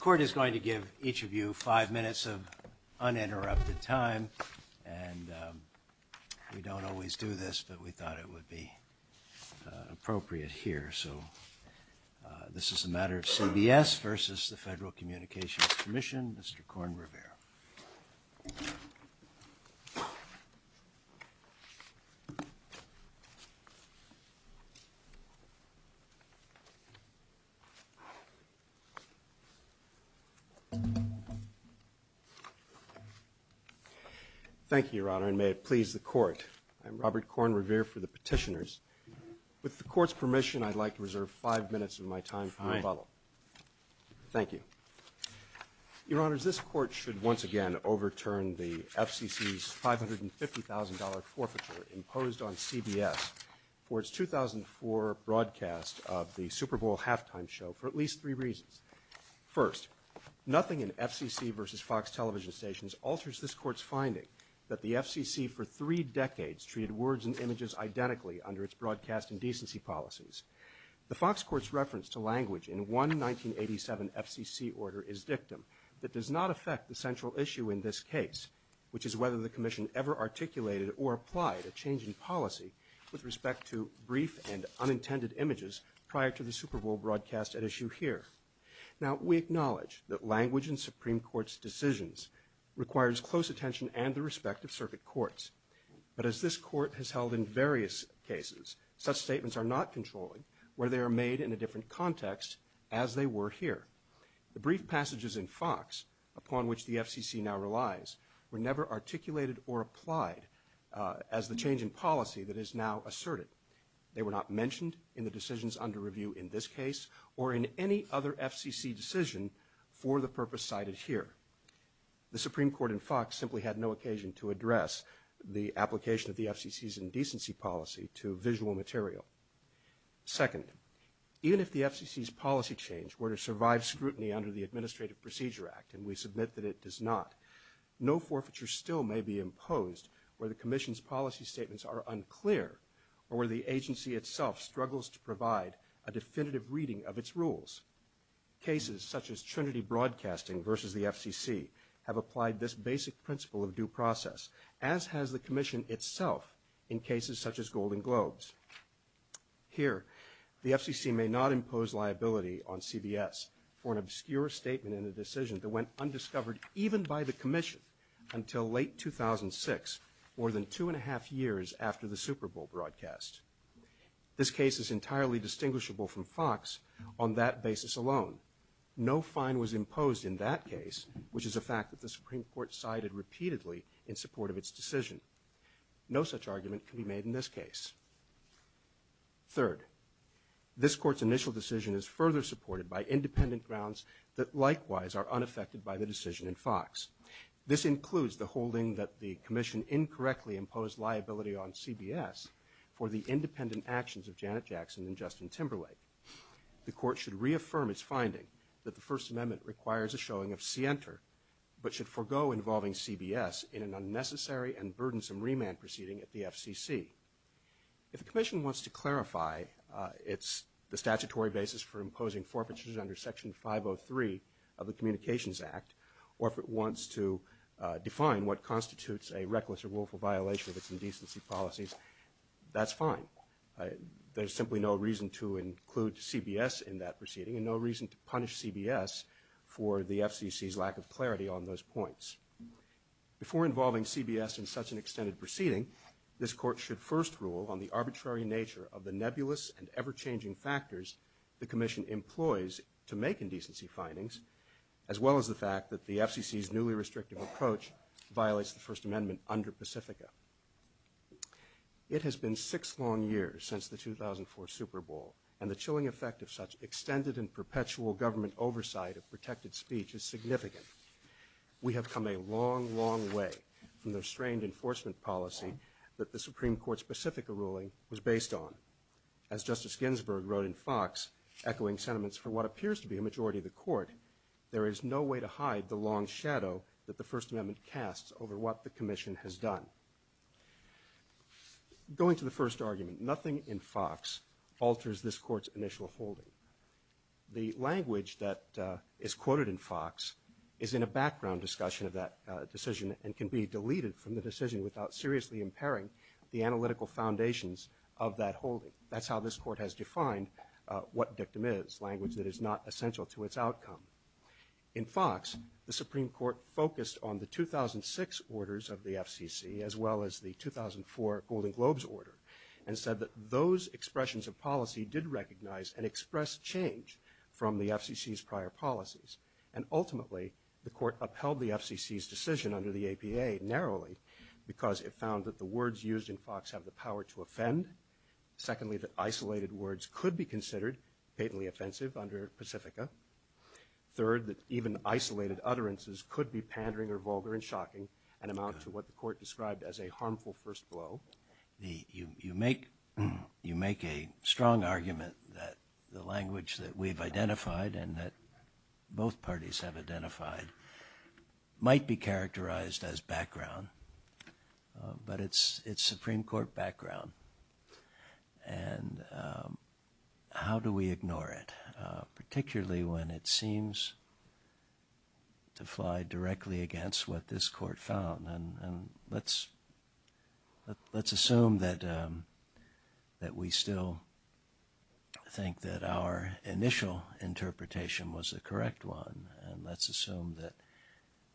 Court is going to give each of you five minutes of uninterrupted time, and we don't always do this, but we thought it would be appropriate here. So this is a matter of CBS versus the Federal Communications Commission, Mr. Korn Revere. Thank you, Your Honor, and may it please the Court. I'm Robert Korn Revere for the petitioners. With the Court's permission, I'd like to reserve five minutes of my time for your follow-up. Thank you. Your Honor, this Court should once again overturn the FCC's $550,000 forfeiture imposed on CBS for its 2004 broadcast of the Super Bowl halftime show for at least three reasons. First, nothing in FCC versus Fox television stations alters this Court's finding that the FCC for three decades has treated words and images identically under its broadcasting decency policies. The Fox Court's reference to language in one 1987 FCC order is victim, but does not affect the central issue in this case, which is whether the Commission ever articulated or applied a change in policy with respect to brief and unintended images prior to the Super Bowl broadcast at issue here. Now, we acknowledge that language in Supreme Court's decisions requires close attention and the respect of circuit courts, but as this Court has held in various cases, such statements are not controlled where they are made in a different context as they were here. The brief passages in Fox, upon which the FCC now relies, were never articulated or applied as the change in policy that is now asserted. They were not mentioned in the decisions under review in this case or in any other FCC decision for the purpose cited here. The Supreme Court in Fox simply had no occasion to address the application of the FCC's indecency policy to visual material. Second, even if the FCC's policy change were to survive scrutiny under the Administrative Procedure Act, and we submit that it does not, no forfeiture still may be imposed where the Commission's policy statements are unclear or where the agency itself struggles to provide a definitive reading of its rules. Cases such as Trinity Broadcasting versus the FCC have applied this basic principle of due process, as has the Commission itself in cases such as Golden Globes. Here, the FCC may not impose liability on CBS for an obscure statement in a decision that went undiscovered even by the Commission until late 2006, more than two and a half years after the Super Bowl broadcast. This case is entirely distinguishable from Fox on that basis alone. No fine was imposed in that case, which is a fact that the Supreme Court cited repeatedly in support of its decision. No such argument can be made in this case. Third, this Court's initial decision is further supported by independent grounds that likewise are unaffected by the decision in Fox. This includes the holding that the Commission incorrectly imposed liability on CBS for the independent actions of Janet Jackson and Justin Timberlake. The Court should reaffirm its finding that the First Amendment requires a showing of scienter but should forego involving CBS in an unnecessary and burdensome remand proceeding at the FCC. If the Commission wants to clarify the statutory basis for imposing forfeiture under Section 503 of the Communications Act or if it wants to define what constitutes a reckless or willful violation of its indecency policies, that's fine. There's simply no reason to include CBS in that proceeding and no reason to punish CBS for the FCC's lack of clarity on those points. Before involving CBS in such an extended proceeding, this Court should first rule on the arbitrary nature of the nebulous and ever-changing factors the Commission employs to make indecency findings as well as the fact that the FCC's newly restrictive approach violates the First Amendment under Pacifica. It has been six long years since the 2004 Super Bowl and the chilling effect of such extended and perpetual government oversight of protected speech is significant. We have come a long, long way from the restrained enforcement policy that the Supreme Court's Pacifica ruling was based on. As Justice Ginsburg wrote in Fox, echoing sentiments from what appears to be a majority of the Court, there is no way to hide the long shadow that the First Amendment casts over what the Commission has done. Going to the first argument, nothing in Fox alters this Court's initial holding. The language that is quoted in Fox is in a background discussion of that decision and can be deleted from the decision without seriously impairing the analytical foundations of that holding. That's how this Court has defined what dictum is, language that is not essential to its outcome. In Fox, the Supreme Court focused on the 2006 orders of the FCC as well as the 2004 Golden Globes order and said that those expressions of policy did recognize and express change from the FCC's prior policies. And ultimately, the Court upheld the FCC's decision under the APA narrowly because it found that the words used in Fox have the power to offend. Secondly, that isolated words could be considered patently offensive under Pacifica. Third, that even isolated utterances could be pandering or vulgar and shocking and amount to what the Court described as a harmful first blow. You make a strong argument that the language that we've identified and that both parties have identified might be characterized as background, but it's Supreme Court background. And how do we ignore it, particularly when it seems to fly directly against what this Court found? Let's assume that we still think that our initial interpretation was the correct one. Let's assume that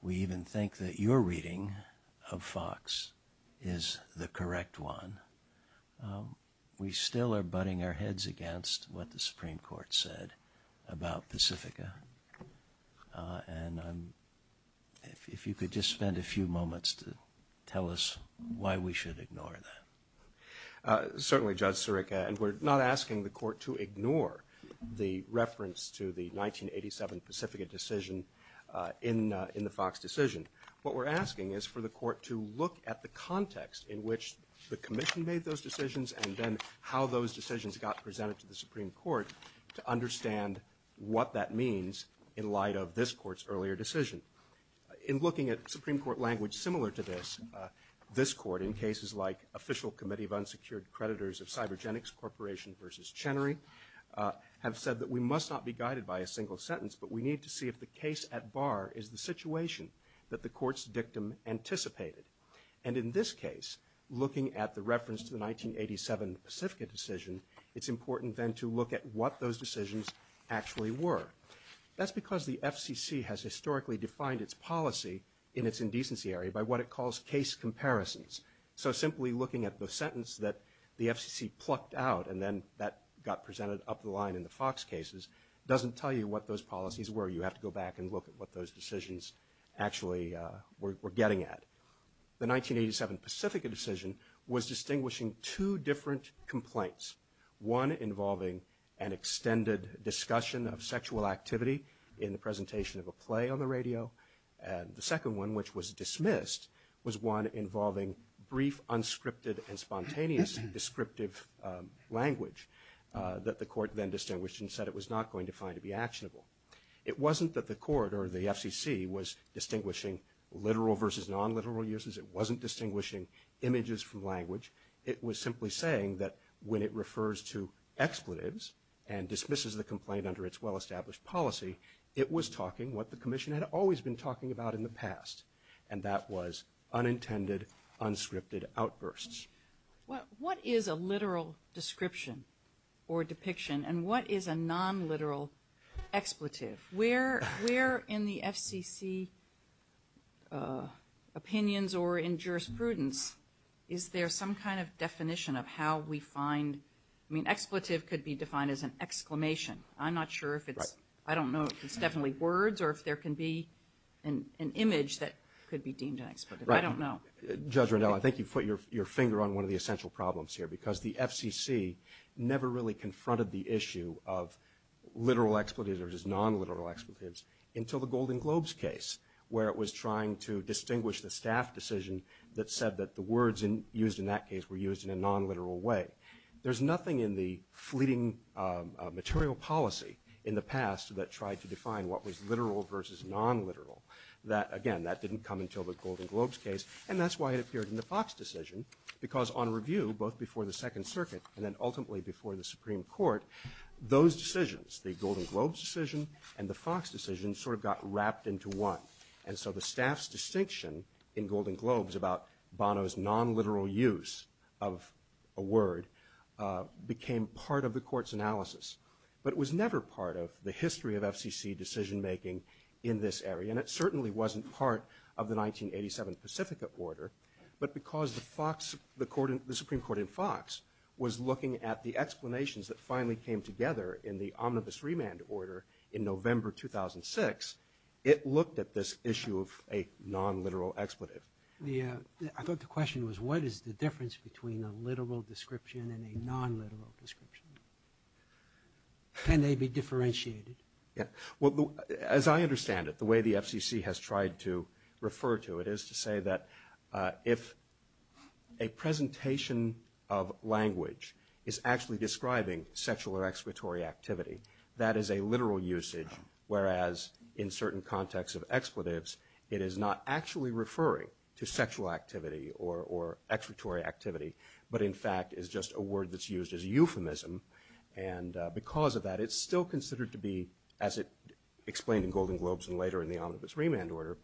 we even think that your reading of Fox is the correct one. We still are butting our heads against what the Supreme Court said about Pacifica. And if you could just spend a few moments to tell us why we should ignore that. Certainly, Judge Sirica. And we're not asking the Court to ignore the reference to the 1987 Pacifica decision in the Fox decision. What we're asking is for the Court to look at the context in which the Commission made those decisions and then how those decisions got presented to the Supreme Court to understand what that means in light of this Court's earlier decision. In looking at Supreme Court language similar to this, this Court in cases like Official Committee of Unsecured Creditors of Cybergenics Corporation v. Chenery have said that we must not be guided by a single sentence, but we need to see if the case at bar is the situation that the Court's dictum anticipated. And in this case, looking at the reference to the 1987 Pacifica decision, it's important then to look at what those decisions actually were. That's because the FCC has historically defined its policy in its indecency area by what it calls case comparisons. So simply looking at the sentence that the FCC plucked out and then that got presented up the line in the Fox cases doesn't tell you what those policies were. You have to go back and look at what those decisions actually were getting at. The 1987 Pacifica decision was distinguishing two different complaints, one involving an extended discussion of sexual activity in the presentation of a play on the radio, and the second one, which was dismissed, was one involving brief, unscripted, and spontaneous descriptive language that the Court then distinguished and said it was not going to find to be actionable. It wasn't that the Court or the FCC was distinguishing literal versus non-literal uses. It wasn't distinguishing images from language. It was simply saying that when it refers to expletives and dismisses the complaint under its well-established policy, it was talking what the Commission had always been talking about in the past, and that was unintended, unscripted outbursts. What is a literal description or depiction, and what is a non-literal expletive? Where in the FCC opinions or in jurisprudence is there some kind of definition of how we find – I mean, expletive could be defined as an exclamation. I'm not sure if it's – I don't know if it's definitely words or if there can be an image that could be deemed an expletive. I don't know. Judge Rendell, I think you put your finger on one of the essential problems here because the FCC never really confronted the issue of literal expletives or just non-literal expletives until the Golden Globes case where it was trying to distinguish the staff decision that said that the words used in that case were used in a non-literal way. There's nothing in the fleeting material policy in the past that tried to define what was literal versus non-literal. Again, that didn't come until the Golden Globes case, and that's why it appeared in the Fox decision because on review both before the Second Circuit and then ultimately before the Supreme Court, those decisions, the Golden Globes decision and the Fox decision sort of got wrapped into one. And so the staff's distinction in Golden Globes about Bono's non-literal use of a word became part of the court's analysis, but it was never part of the history of FCC decision-making in this area. And it certainly wasn't part of the 1987 Pacifica order, but because the Supreme Court in Fox was looking at the explanations that finally came together in the omnibus remand order in November 2006, it looked at this issue of a non-literal expletive. I thought the question was what is the difference between a literal description and a non-literal description? Can they be differentiated? As I understand it, the way the FCC has tried to refer to it is to say that if a presentation of language is actually describing sexual or expletory activity, that is a literal usage, whereas in certain contexts of expletives it is not actually referring to sexual activity or expletory activity, but in fact is just a word that's used as a euphemism. And because of that, it's still considered to be, as it explained in Golden Globes and later in the omnibus remand order,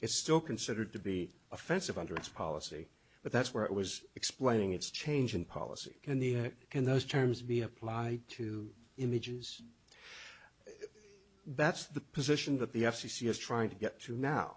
it's still considered to be offensive under its policy, but that's where it was explaining its change in policy. Can those terms be applied to images? That's the position that the FCC is trying to get to now,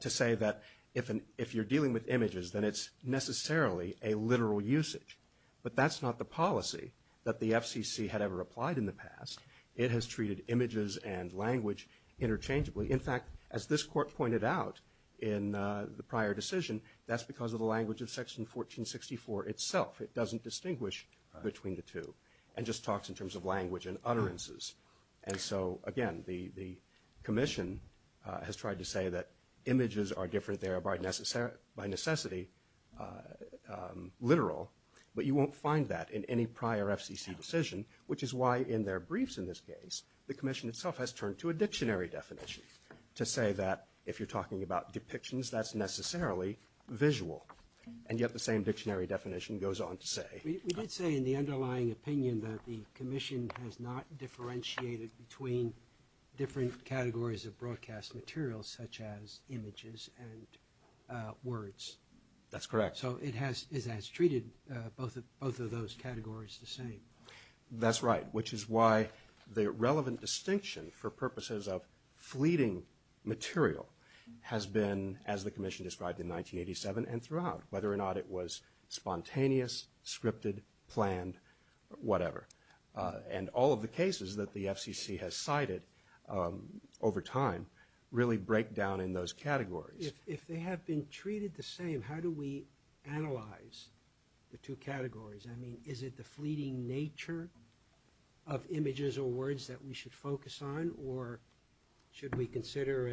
to say that if you're dealing with images, then it's necessarily a literal usage. But that's not the policy that the FCC had ever applied in the past. It has treated images and language interchangeably. In fact, as this court pointed out in the prior decision, that's because of the language of Section 1464 itself. It doesn't distinguish between the two and just talks in terms of language and utterances. And so, again, the commission has tried to say that images are different there by necessity, literal, but you won't find that in any prior FCC decision, which is why in their briefs in this case, the commission itself has turned to a dictionary definition to say that if you're talking about depictions, that's necessarily visual. And yet the same dictionary definition goes on to say. Let's say in the underlying opinion that the commission has not differentiated between different categories of broadcast material, such as images and words. That's correct. So it has treated both of those categories the same. That's right, which is why the relevant distinction for purposes of fleeting material has been, as the commission described in 1987 and throughout, whether or not it was spontaneous, scripted, planned, whatever. And all of the cases that the FCC has cited over time really break down in those categories. If they have been treated the same, how do we analyze the two categories? I mean, is it the fleeting nature of images or words that we should focus on, or should we consider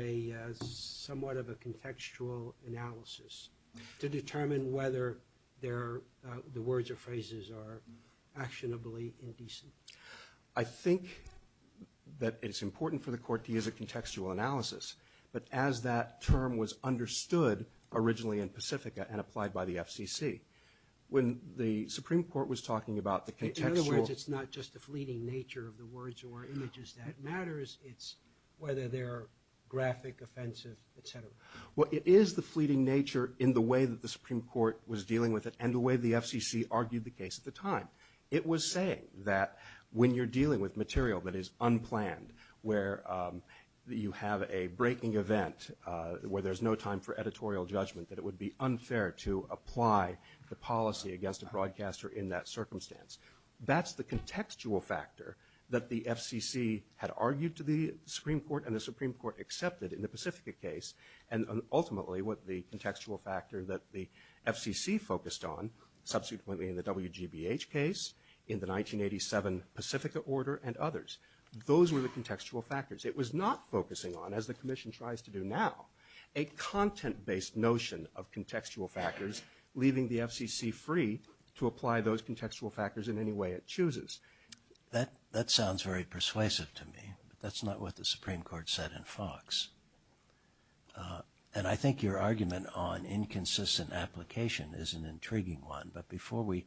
somewhat of a contextual analysis to determine whether the words or phrases are actionably indecent? I think that it's important for the court to use a contextual analysis, but as that term was understood originally in Pacifica and applied by the FCC, when the Supreme Court was talking about the contextual… In other words, it's not just the fleeting nature of the words or images that matters. It's whether they're graphic, offensive, et cetera. Well, it is the fleeting nature in the way that the Supreme Court was dealing with it and the way the FCC argued the case at the time. It was saying that when you're dealing with material that is unplanned, where you have a breaking event, where there's no time for editorial judgment, that it would be unfair to apply the policy against a broadcaster in that circumstance. That's the contextual factor that the FCC had argued to the Supreme Court and the Supreme Court accepted in the Pacifica case, and ultimately what the contextual factor that the FCC focused on subsequently in the WGBH case, in the 1987 Pacifica order, and others. Those were the contextual factors. It was not focusing on, as the Commission tries to do now, a content-based notion of contextual factors, leaving the FCC free to apply those contextual factors in any way it chooses. That sounds very persuasive to me. That's not what the Supreme Court said in Fox. And I think your argument on inconsistent application is an intriguing one, but before we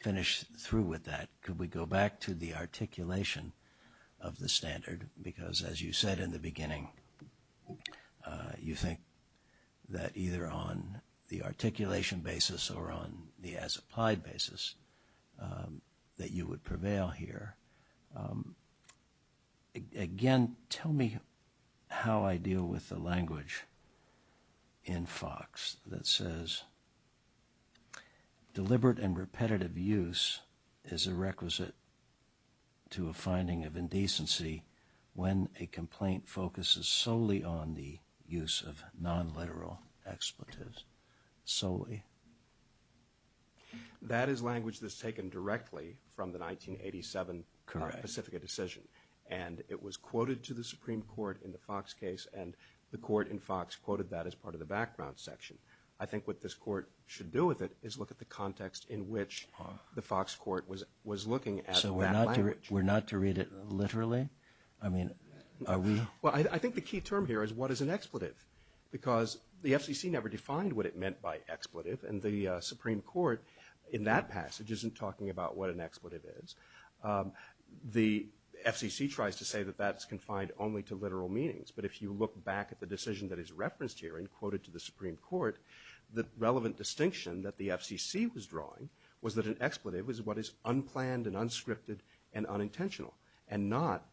finish through with that, could we go back to the articulation of the standard? Because as you said in the beginning, you think that either on the articulation basis or on the as-applied basis that you would prevail here. Again, tell me how I deal with the language in Fox that says, deliberate and repetitive use is a requisite to a finding of indecency when a complaint focuses solely on the use of non-literal expletives. Solely. That is language that's taken directly from the 1987 Pacifica decision, and it was quoted to the Supreme Court in the Fox case, and the Court in Fox quoted that as part of the background section. I think what this Court should do with it is look at the context in which the Fox Court was looking at that language. So we're not to read it literally? Well, I think the key term here is what is an expletive? Because the FCC never defined what it meant by expletive, and the Supreme Court in that passage isn't talking about what an expletive is. The FCC tries to say that that's confined only to literal meanings, but if you look back at the decision that is referenced here and quoted to the Supreme Court, the relevant distinction that the FCC was drawing was that an expletive was what is unplanned and unscripted and unintentional, and not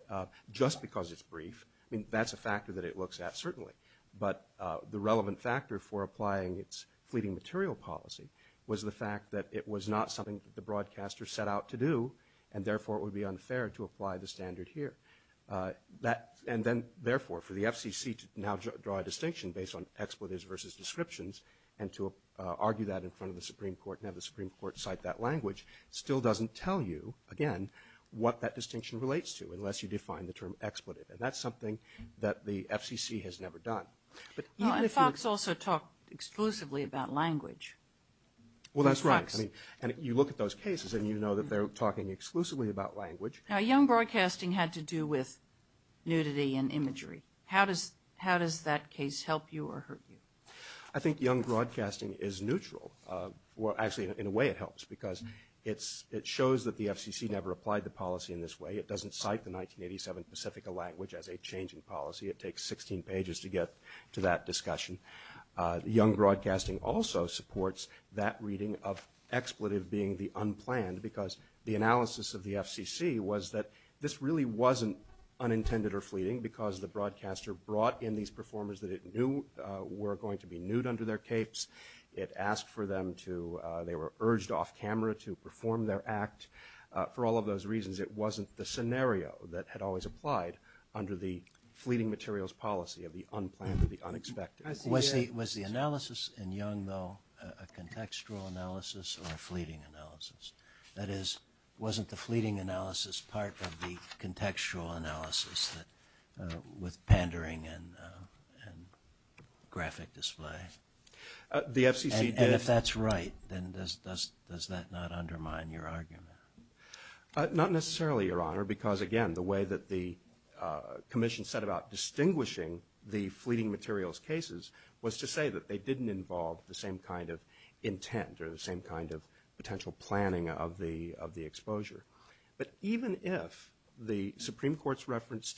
just because it's brief. That's a factor that it looks at, certainly, but the relevant factor for applying its fleeting material policy was the fact that it was not something that the broadcaster set out to do, and therefore it would be unfair to apply the standard here. And then, therefore, for the FCC to now draw a distinction based on expletives versus descriptions and to argue that in front of the Supreme Court and have the Supreme Court cite that language still doesn't tell you, again, what that distinction relates to unless you define the term expletive, and that's something that the FCC has never done. Well, and Fox also talked exclusively about language. Well, that's right, and you look at those cases and you know that they're talking exclusively about language. Now, Young Broadcasting had to do with nudity and imagery. How does that case help you or hurt you? I think Young Broadcasting is neutral. Well, actually, in a way it helps because it shows that the FCC never applied the policy in this way. It doesn't cite the 1987 Pacifica language as a change in policy. It takes 16 pages to get to that discussion. Young Broadcasting also supports that reading of expletive being the unplanned because the analysis of the FCC was that this really wasn't unintended or fleeting because the broadcaster brought in these performers that it knew were going to be nude under their capes. It asked for them to... they were urged off-camera to perform their act. For all of those reasons, it wasn't the scenario that had always applied under the fleeting materials policy of the unplanned or the unexpected. Was the analysis in Young, though, a contextual analysis or a fleeting analysis? That is, wasn't the fleeting analysis part of the contextual analysis with pandering and graphic display? The FCC did... And if that's right, then does that not undermine your argument? Not necessarily, Your Honor, because, again, the way that the commission set about distinguishing the fleeting materials cases was to say that they didn't involve the same kind of intent or the same kind of potential planning of the exposure. But even if the Supreme Court's reference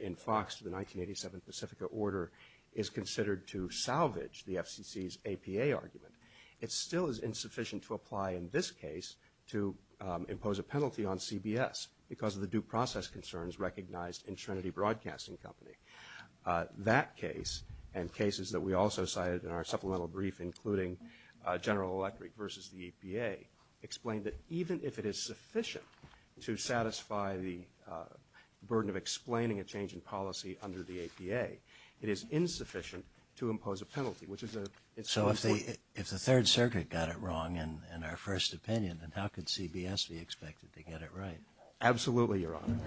in Fox to the 1987 Pacifica order is considered to salvage the FCC's APA argument, it still is insufficient to apply in this case to impose a penalty on CBS because of the due process concerns recognized in Trinity Broadcasting Company. That case and cases that we also cited in our supplemental brief, including General Electric versus the EPA, explained that even if it is sufficient to satisfy the burden of explaining a change in policy under the APA, it is insufficient to impose a penalty, which is a... So if the Third Circuit got it wrong in our first opinion, then how could CBS be expected to get it right? Absolutely, Your Honor.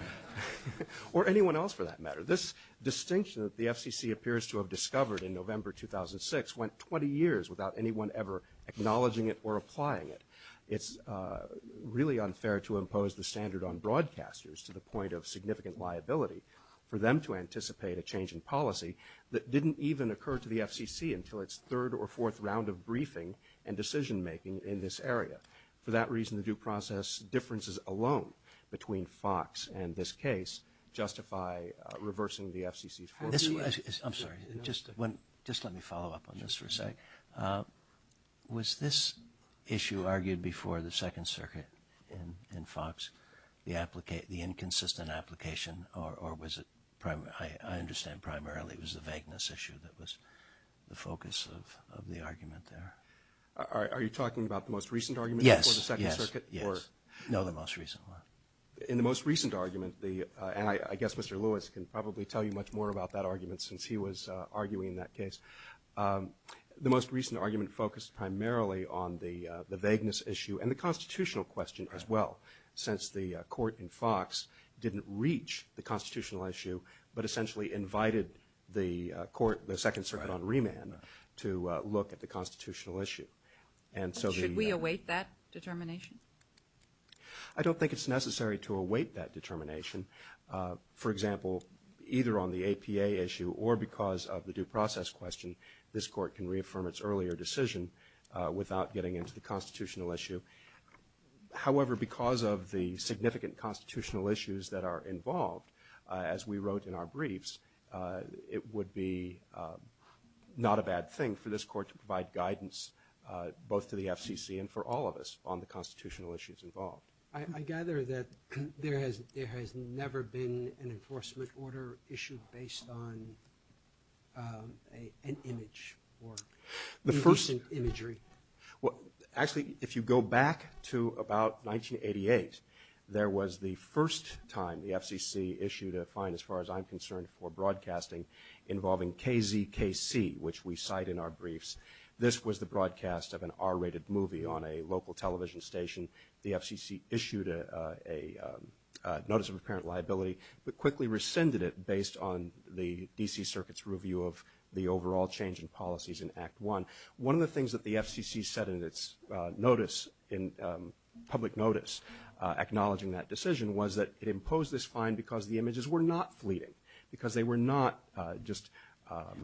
Or anyone else, for that matter. This distinction that the FCC appears to have discovered in November 2006 went 20 years without anyone ever acknowledging it or applying it. It's really unfair to impose the standard on broadcasters to the point of significant liability for them to anticipate a change in policy that didn't even occur to the FCC until its third or fourth round of briefing and decision-making in this area. For that reason, the due process differences alone between Fox and this case justify reversing the FCC's... I'm sorry. Just let me follow up on this for a second. Was this issue argued before the Second Circuit in Fox, the inconsistent application, or was it... I understand primarily it was the vagueness issue that was the focus of the argument there. Are you talking about the most recent argument before the Second Circuit? Yes. No, the most recent one. In the most recent argument, and I guess Mr. Lewis can probably tell you much more about that argument since he was arguing that case, the most recent argument focused primarily on the vagueness issue and the constitutional question as well, since the court in Fox didn't reach the constitutional issue but essentially invited the court, the Second Circuit on remand, to look at the constitutional issue. Should we await that determination? I don't think it's necessary to await that determination. For example, either on the APA issue or because of the due process question, this court can reaffirm its earlier decision without getting into the constitutional issue. However, because of the significant constitutional issues that are involved, as we wrote in our briefs, it would be not a bad thing for this court to provide guidance both to the FCC and for all of us on the constitutional issues involved. I gather that there has never been an enforcement order issued based on an image or imaging imagery. Actually, if you go back to about 1988, there was the first time the FCC issued a fine, as far as I'm concerned, for broadcasting involving KZKC, which we cite in our briefs. This was the broadcast of an R-rated movie on a local television station. The FCC issued a notice of apparent liability but quickly rescinded it based on the D.C. Circuit's review of the overall change in policies in Act I. One of the things that the FCC said in its notice, in public notice, acknowledging that decision, was that it imposed this fine because the images were not fleeting, because they were not just...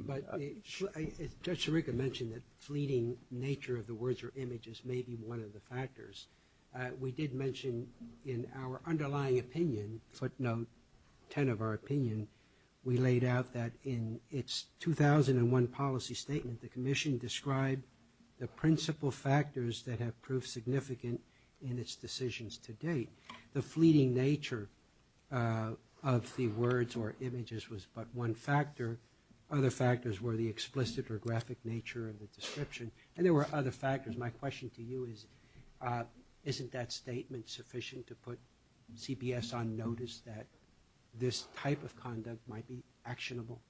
But Judge Sharika mentioned that fleeting nature of the words or images may be one of the factors. We did mention in our underlying opinion, footnote 10 of our opinion, we laid out that in its 2001 policy statement, the Commission described the principal factors that have proved significant in its decisions to date. The fleeting nature of the words or images was but one factor. Other factors were the explicit or graphic nature of the description. And there were other factors. My question to you is, isn't that statement sufficient to put CBS on notice that this type of conduct might be actionable?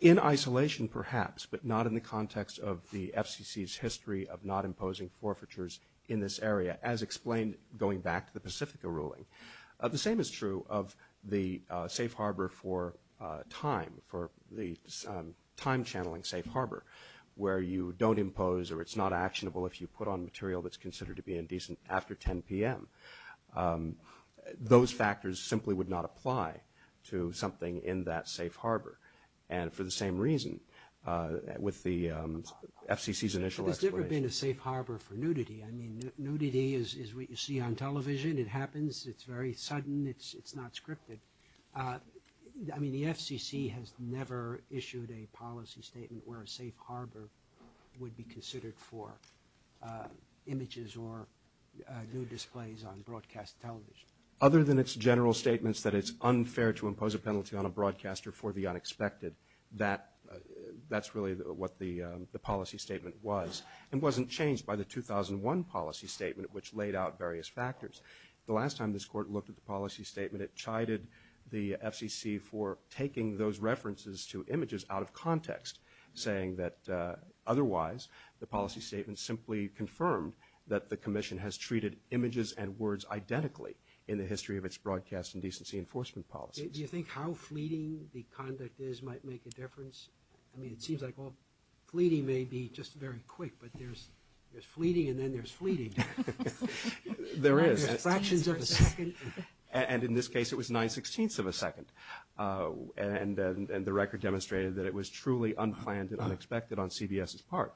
In isolation, perhaps, but not in the context of the FCC's history of not imposing forfeitures in this area, as explained going back to the Pacifica ruling. The same is true of the safe harbor for time, the time-channeling safe harbor, where you don't impose or it's not actionable if you put on material that's considered to be indecent after 10 p.m. Those factors simply would not apply to something in that safe harbor. And for the same reason, with the FCC's initial explanation... There's never been a safe harbor for nudity. I mean, nudity is what you see on television. It happens. It's very sudden. It's not scripted. I mean, the FCC has never issued a policy statement where a safe harbor would be considered for images or nude displays on broadcast television. Other than its general statements that it's unfair to impose a penalty on a broadcaster for the unexpected, that's really what the policy statement was. It wasn't changed by the 2001 policy statement, which laid out various factors. The last time this court looked at the policy statement, it chided the FCC for taking those references to images out of context, saying that otherwise the policy statement simply confirmed that the commission has treated images and words identically in the history of its broadcast indecency enforcement policies. Do you think how fleeting the conduct is might make a difference? I mean, it seems like, well, fleeting may be just very quick, but there's fleeting and then there's fleeting. There is. There's fractions of a second. And in this case, it was nine sixteenths of a second. And the record demonstrated that it was truly unplanned and unexpected on CBS's part.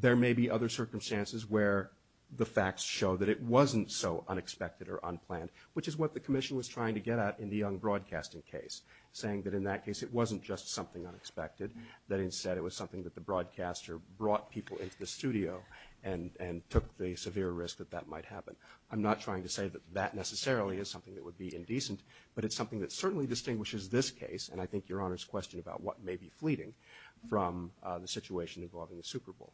There may be other circumstances where the facts show that it wasn't so unexpected or unplanned, which is what the commission was trying to get at in the Young Broadcasting case, saying that in that case it wasn't just something unexpected, that instead it was something that the broadcaster brought people into the studio and took the severe risk that that might happen. I'm not trying to say that that necessarily is something that would be indecent, but it's something that certainly distinguishes this case, and I think Your Honor's question about what may be fleeting, from the situation involving the Super Bowl.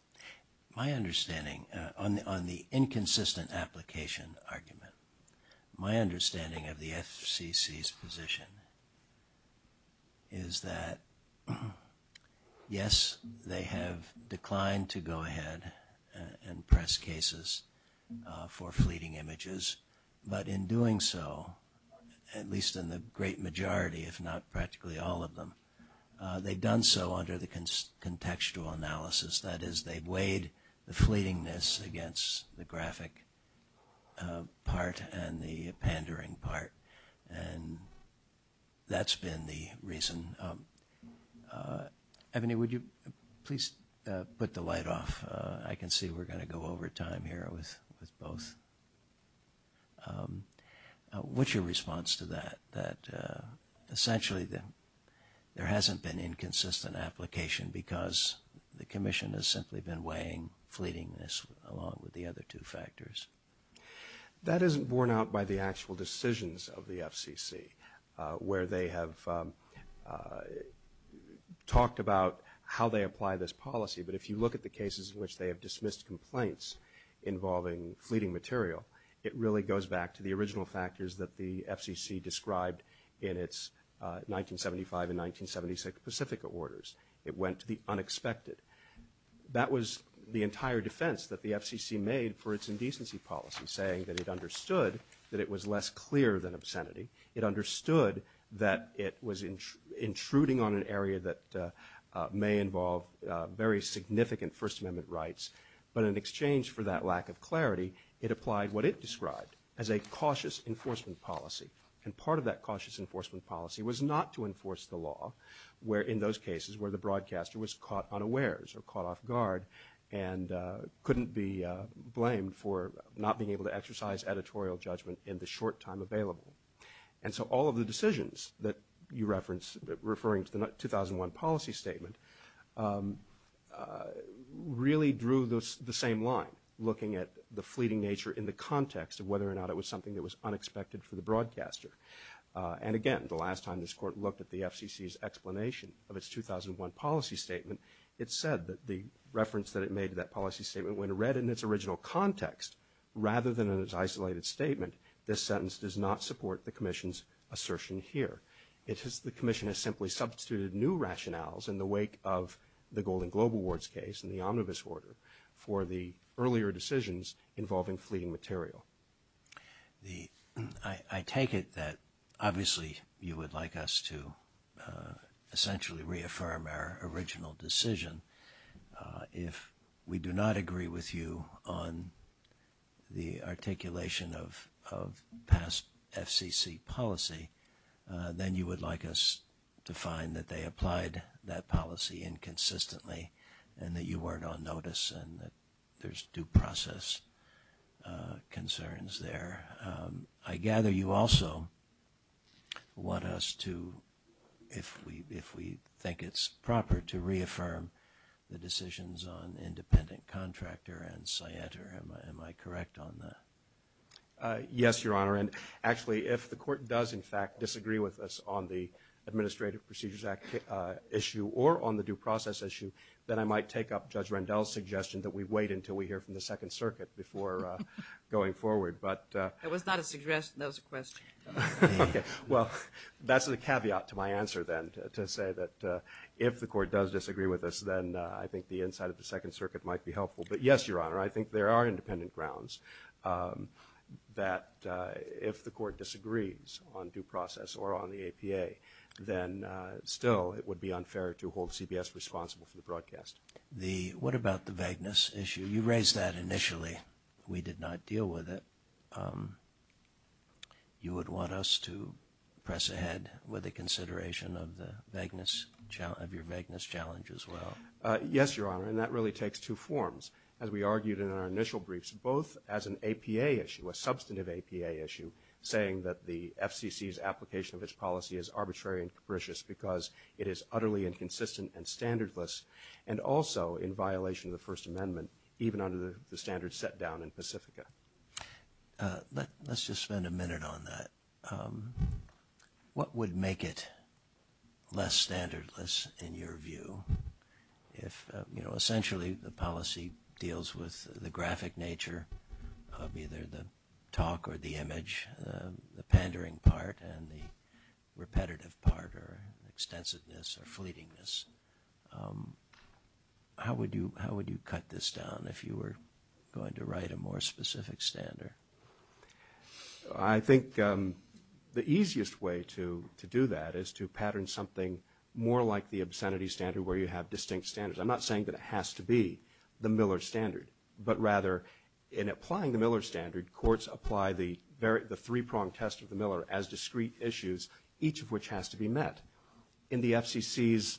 My understanding on the inconsistent application argument, they have declined to go ahead and press cases for fleeting images. But in doing so, at least in the great majority, if not practically all of them, they've done so under the contextual analysis. That is, they've weighed the fleetingness against the graphic part and the pandering part. And that's been the reason. Ebony, would you please put the light off? I can see we're going to go over time here with both. What's your response to that, that essentially there hasn't been inconsistent application because the commission has simply been weighing fleetingness along with the other two factors? That isn't borne out by the actual decisions of the FCC, where they have talked about how they apply this policy. But if you look at the cases in which they have dismissed complaints involving fleeting material, it really goes back to the original factors that the FCC described in its 1975 and 1976 Pacific Orders. It went to the unexpected. That was the entire defense that the FCC made for its indecency policy, saying that it understood that it was less clear than obscenity. It understood that it was intruding on an area that may involve very significant First Amendment rights. But in exchange for that lack of clarity, it applied what it described as a cautious enforcement policy. And part of that cautious enforcement policy was not to enforce the law, where in those cases where the broadcaster was caught unawares or caught off guard and couldn't be blamed for not being able to exercise editorial judgment in the short time available. And so all of the decisions that you reference referring to the 2001 policy statement really drew the same line, looking at the fleeting nature in the context of whether or not it was something that was unexpected for the broadcaster. And again, the last time this Court looked at the FCC's explanation of its 2001 policy statement, it said that the reference that it made to that policy statement, when read in its original context, rather than in its isolated statement, this sentence does not support the Commission's assertion here. It says the Commission has simply substituted new rationales in the wake of the Golden Globe Awards case and the Omnibus Order for the earlier decisions involving fleeting material. I take it that obviously you would like us to essentially reaffirm our original decision. If we do not agree with you on the articulation of past FCC policy, then you would like us to find that they applied that policy inconsistently and that you weren't on notice and that there's due process concerns there. I gather you also want us to, if we think it's proper, to reaffirm the decisions on independent contractor and SIETR. Am I correct on that? Yes, Your Honor. And actually, if the Court does, in fact, disagree with us on the Administrative Procedures Act issue or on the due process issue, then I might take up Judge Rendell's suggestion that we wait until we hear from the Second Circuit before going forward. That was not a suggestion. That was a question. Well, that's the caveat to my answer then, to say that if the Court does disagree with us, then I think the inside of the Second Circuit might be helpful. But yes, Your Honor, I think there are independent grounds that if the Court disagrees on due process or on the APA, then still it would be unfair to hold CBS responsible for the broadcast. What about the vagueness issue? You raised that initially. We did not deal with it. You would want us to press ahead with a consideration of your vagueness challenge as well. Yes, Your Honor, and that really takes two forms. As we argued in our initial briefs, both as an APA issue, a substantive APA issue, saying that the FCC's application of its policy is arbitrary and capricious because it is utterly inconsistent and standardless and also in violation of the First Amendment, even under the standard set down in Pacifica. Let's just spend a minute on that. What would make it less standardless in your view if, you know, the pandering part and the repetitive part are extensiveness or fleetingness? How would you cut this down if you were going to write a more specific standard? I think the easiest way to do that is to pattern something more like the obscenity standard where you have distinct standards. I'm not saying that it has to be the Miller standard, but rather in applying the Miller standard, courts apply the three-pronged test of the Miller as discrete issues, each of which has to be met. In the FCC's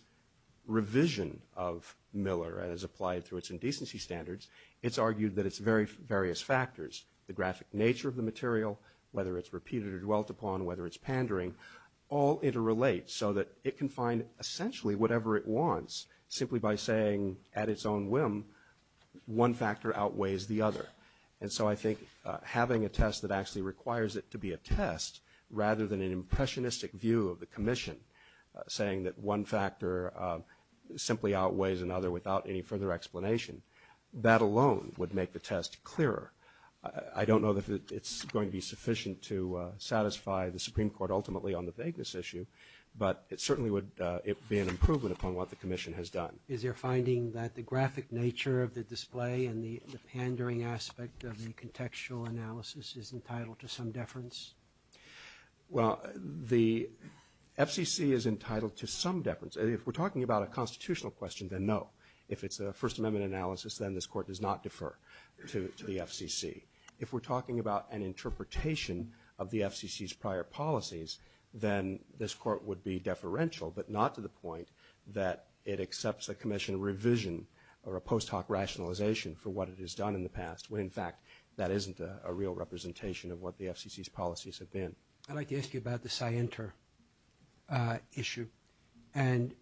revision of Miller as applied to its indecency standards, it's argued that it's various factors, the graphic nature of the material, whether it's repeated or dwelt upon, whether it's pandering, all interrelate so that it can find essentially whatever it wants simply by saying at its own whim, one factor outweighs the other. And so I think having a test that actually requires it to be a test rather than an impressionistic view of the commission, saying that one factor simply outweighs another without any further explanation, that alone would make the test clearer. I don't know that it's going to be sufficient to satisfy the Supreme Court ultimately on the vagueness issue, but it certainly would be an improvement upon what the commission has done. Is there finding that the graphic nature of the display and the pandering aspect of the contextual analysis is entitled to some deference? Well, the FCC is entitled to some deference. If we're talking about a constitutional question, then no. If it's a First Amendment analysis, then this court does not defer to the FCC. If we're talking about an interpretation of the FCC's prior policies, then this court would be deferential, but not to the point that it accepts a commission revision or a post hoc rationalization for what it has done in the past, when in fact that isn't a real representation of what the FCC's policies have been. I'd like to ask you about the scienter issue. And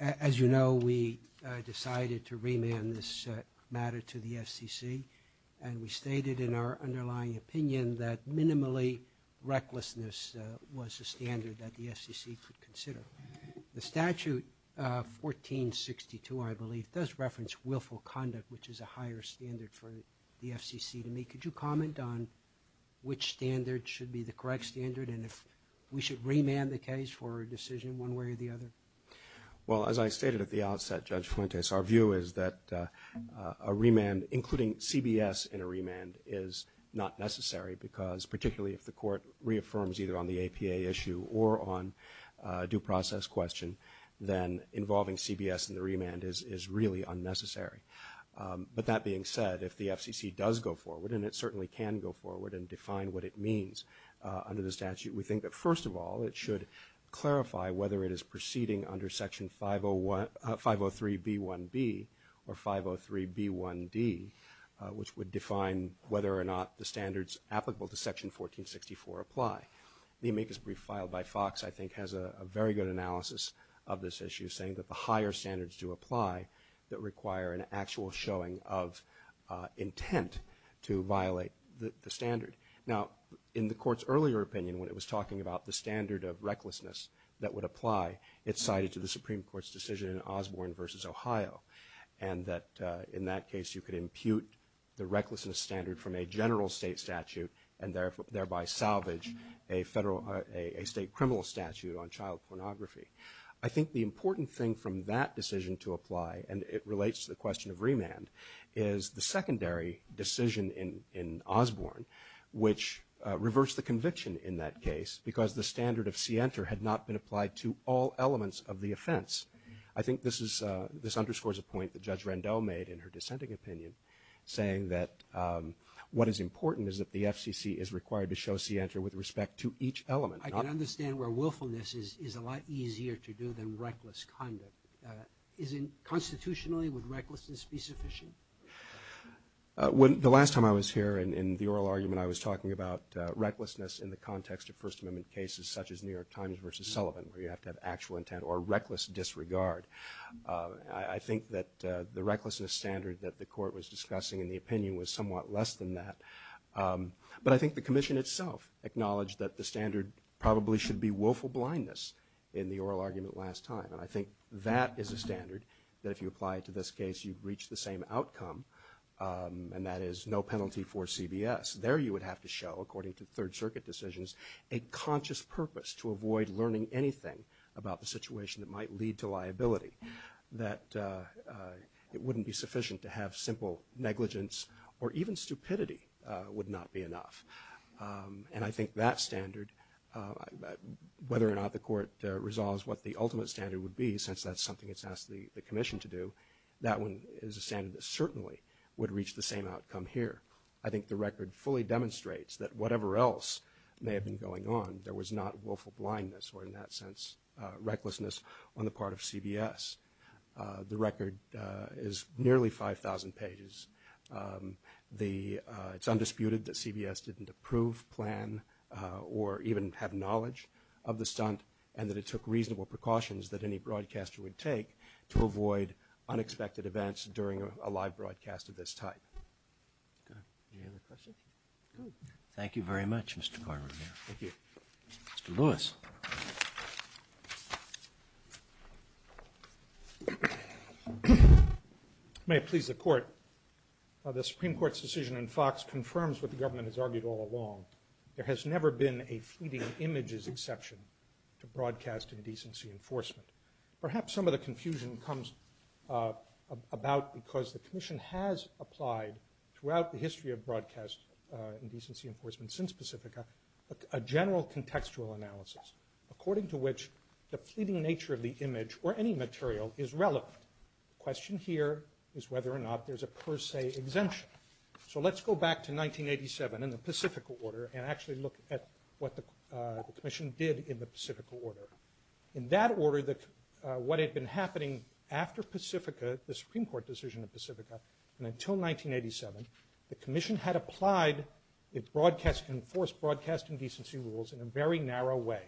as you know, we decided to remand this matter to the FCC, and we stated in our underlying opinion that minimally recklessness was a standard that the FCC could consider. The statute 1462, I believe, does reference willful conduct, which is a higher standard for the FCC to meet. Could you comment on which standard should be the correct standard and if we should remand the case for a decision one way or the other? Well, as I stated at the outset, Judge Fuentes, our view is that a remand, including CBS in a remand, is not necessary, because particularly if the court reaffirms either on the APA issue or on due process question, then involving CBS in the remand is really unnecessary. But that being said, if the FCC does go forward, and it certainly can go forward and define what it means under the statute, we think that, first of all, it should clarify whether it is proceeding under Section 503B1B or 503B1D, which would define whether or not the standards applicable to Section 1464 apply. The amicus brief filed by Fox, I think, has a very good analysis of this issue, saying that the higher standards do apply that require an actual showing of intent to violate the standard. Now, in the Court's earlier opinion, when it was talking about the standard of recklessness that would apply, it cited to the Supreme Court's decision in Osborne v. Ohio, and that in that case you could impute the recklessness standard from a general state statute and thereby salvage a state criminal statute on child pornography. I think the important thing from that decision to apply, and it relates to the question of remand, is the secondary decision in Osborne, which reversed the conviction in that case because the standard of scienter had not been applied to all elements of the offense. I think this underscores a point that Judge Randall made in her dissenting opinion, saying that what is important is that the FCC is required to show scienter with respect to each element. I can understand where willfulness is a lot easier to do than reckless conduct. Constitutionally, would recklessness be sufficient? The last time I was here in the oral argument, I was talking about recklessness in the context of First Amendment cases such as New York Times v. Sullivan, where you have to have actual intent or reckless disregard. I think that the recklessness standard that the Court was discussing in the opinion was somewhat less than that. But I think the Commission itself acknowledged that the standard probably should be willful blindness in the oral argument last time. I think that is a standard that if you apply it to this case, you'd reach the same outcome, and that is no penalty for CBS. There you would have to show, according to Third Circuit decisions, a conscious purpose to avoid learning anything about the situation that might lead to liability, that it wouldn't be sufficient to have simple negligence or even stupidity would not be enough. And I think that standard, whether or not the Court resolves what the ultimate standard would be, since that's something it's asked the Commission to do, that one is a standard that certainly would reach the same outcome here. I think the record fully demonstrates that whatever else may have been going on, there was not willful blindness or, in that sense, recklessness on the part of CBS. The record is nearly 5,000 pages. It's undisputed that CBS didn't approve, plan, or even have knowledge of the stunt, and that it took reasonable precautions that any broadcaster would take to avoid unexpected events during a live broadcast of this type. Any other questions? Thank you very much, Mr. Barber. Thank you. Mr. Lewis. May it please the Court. The Supreme Court's decision in Fox confirms what the government has argued all along. There has never been a fleeting images exception to broadcast indecency enforcement. Perhaps some of the confusion comes about because the Commission has applied, throughout the history of broadcast indecency enforcement since Pacifica, a general contextual analysis. According to which, the fleeting nature of the image or any material is relevant. The question here is whether or not there's a per se exemption. So let's go back to 1987 in the Pacifica order and actually look at what the Commission did in the Pacifica order. In that order, what had been happening after Pacifica, the Supreme Court decision in Pacifica, and until 1987, the Commission had applied its enforced broadcasting decency rules in a very narrow way.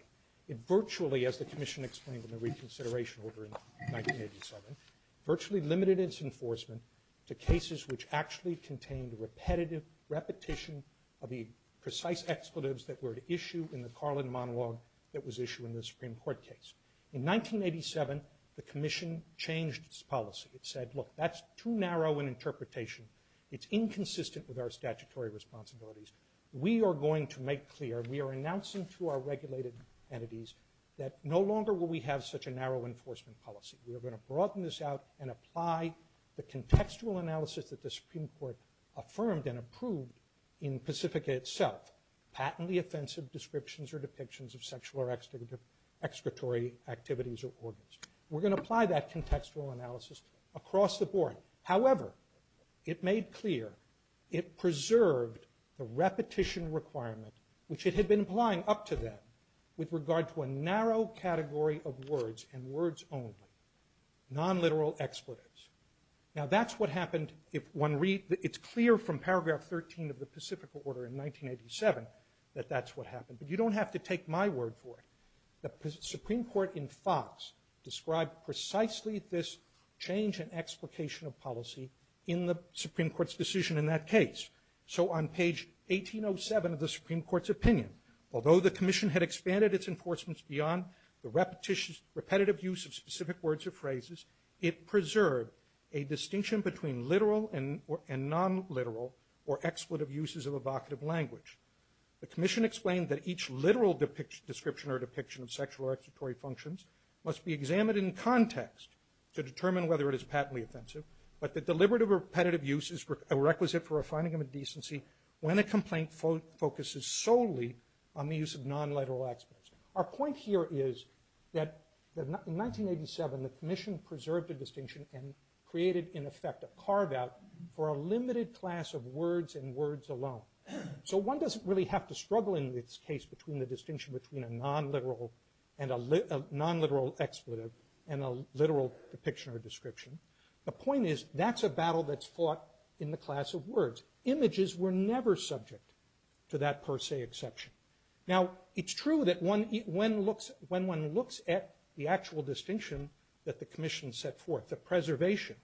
It virtually, as the Commission explained in the reconsideration order in 1987, virtually limited its enforcement to cases which actually contained repetitive repetition of the precise expletives that were issued in the Carlin monologue that was issued in the Supreme Court case. In 1987, the Commission changed its policy. It said, look, that's too narrow an interpretation. It's inconsistent with our statutory responsibilities. We are going to make clear and we are announcing to our regulated entities that no longer will we have such a narrow enforcement policy. We are going to broaden this out and apply the contextual analysis that the Supreme Court affirmed and approved in Pacifica itself, patently offensive descriptions or depictions of sexual or expiratory activities or organs. We're going to apply that contextual analysis across the board. However, it made clear it preserved the repetition requirement, which it had been applying up to then, with regard to a narrow category of words and words only, non-literal expletives. Now, that's what happened if one reads, it's clear from paragraph 13 of the Pacifica order in 1987 that that's what happened, but you don't have to take my word for it. The Supreme Court in Fox described precisely this change in explication of policy in the Supreme Court's decision in that case. So on page 1807 of the Supreme Court's opinion, although the Commission had expanded its enforcements beyond the repetitive use of specific words or phrases, it preserved a distinction between literal and non-literal or expletive uses of evocative language. The Commission explained that each literal description or depiction of sexual or expiratory functions must be examined in context to determine whether it is patently offensive, but the deliberative or repetitive use is a requisite for a finding of decency when a complaint focuses solely on the use of non-literal expletives. Our point here is that in 1987, the Commission preserved the distinction and created, in effect, a carve-out for a limited class of words and words alone. So one doesn't really have to struggle in this case between the distinction between a non-literal and a non-literal expletive and a literal depiction or description. The point is that's a battle that's fought in the class of words. Images were never subject to that per se exception. Now, it's true that when one looks at the actual distinction that the Commission set forth, the preservation,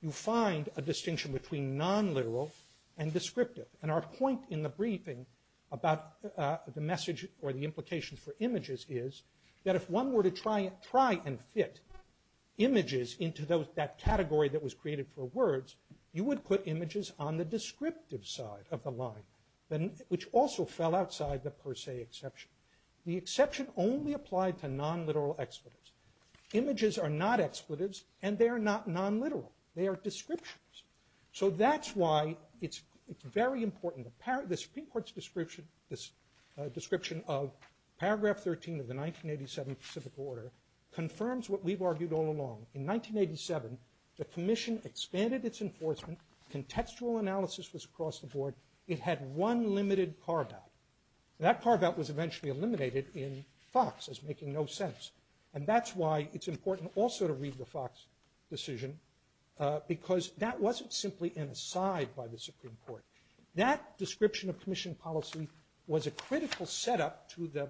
you find a distinction between non-literal and descriptive. And our point in the briefing about the message or the implications for images is that if one were to try and fit images into that category that was created for words, you would put images on the descriptive side of the line, which also fell outside the per se exception. The exception only applied to non-literal expletives. Images are not expletives, and they are not non-literal. They are descriptions. So that's why it's very important. The Supreme Court's description of paragraph 13 of the 1987 Pacific Order confirms what we've argued all along. In 1987, the Commission expanded its enforcement. Contextual analysis was across the board. It had one limited carve-out. That carve-out was eventually eliminated in Fox as making no sense. And that's why it's important also to read the Fox decision because that wasn't simply inside by the Supreme Court. That description of Commission policy was a critical setup to the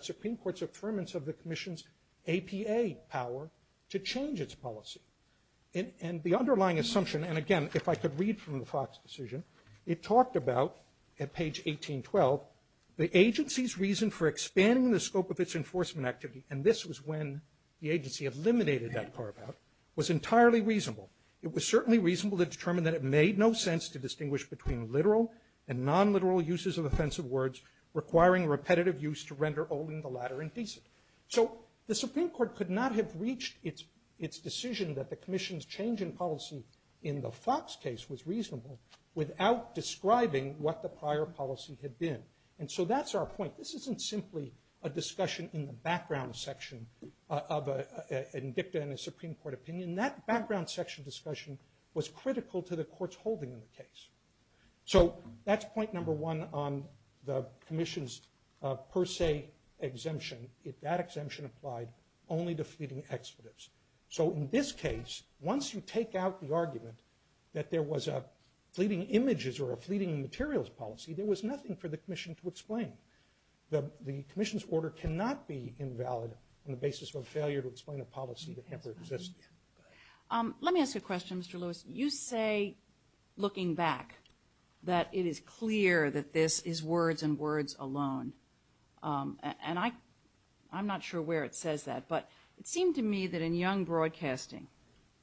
Supreme Court's affirmance of the Commission's APA power to change its policy. And the underlying assumption, and again, if I could read from the Fox decision, it talked about, at page 1812, the agency's reason for expanding the scope of its enforcement activity, and this was when the agency eliminated that carve-out, was entirely reasonable. It was certainly reasonable to determine that it made no sense to distinguish between literal and non-literal uses of offensive words, requiring repetitive use to render only the latter indecent. So the Supreme Court could not have reached its decision that the Commission's change in policy in the Fox case was reasonable without describing what the prior policy had been. And so that's our point. This isn't simply a discussion in the background section of a victim in a Supreme Court opinion. That background section discussion was critical to the court's holding of the case. So that's point number one on the Commission's per se exemption. If that exemption applied, only defeating extratives. So in this case, once you take out the argument that there was a fleeting images or a fleeting materials policy, there was nothing for the Commission to explain. The Commission's order cannot be invalid on the basis of a failure to explain a policy that never existed. Let me ask a question, Mr. Lewis. You say, looking back, that it is clear that this is words and words alone. And I'm not sure where it says that. But it seemed to me that in Young Broadcasting,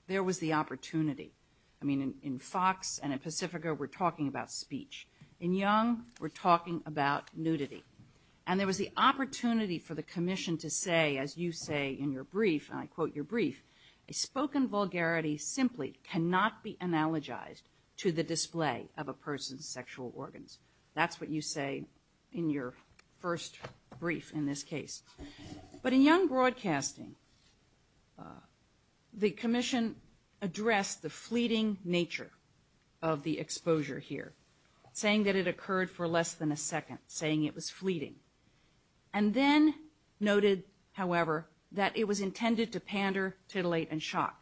there was the opportunity. I mean, in Fox and in Pacifica, we're talking about speech. In Young, we're talking about nudity. And there was the opportunity for the Commission to say, as you say in your brief, and I quote your brief, a spoken vulgarity simply cannot be analogized to the display of a person's sexual organs. That's what you say in your first brief in this case. But in Young Broadcasting, the Commission addressed the fleeting nature of the exposure here, saying that it occurred for less than a second, saying it was fleeting. And then noted, however, that it was intended to pander, titillate, and shock.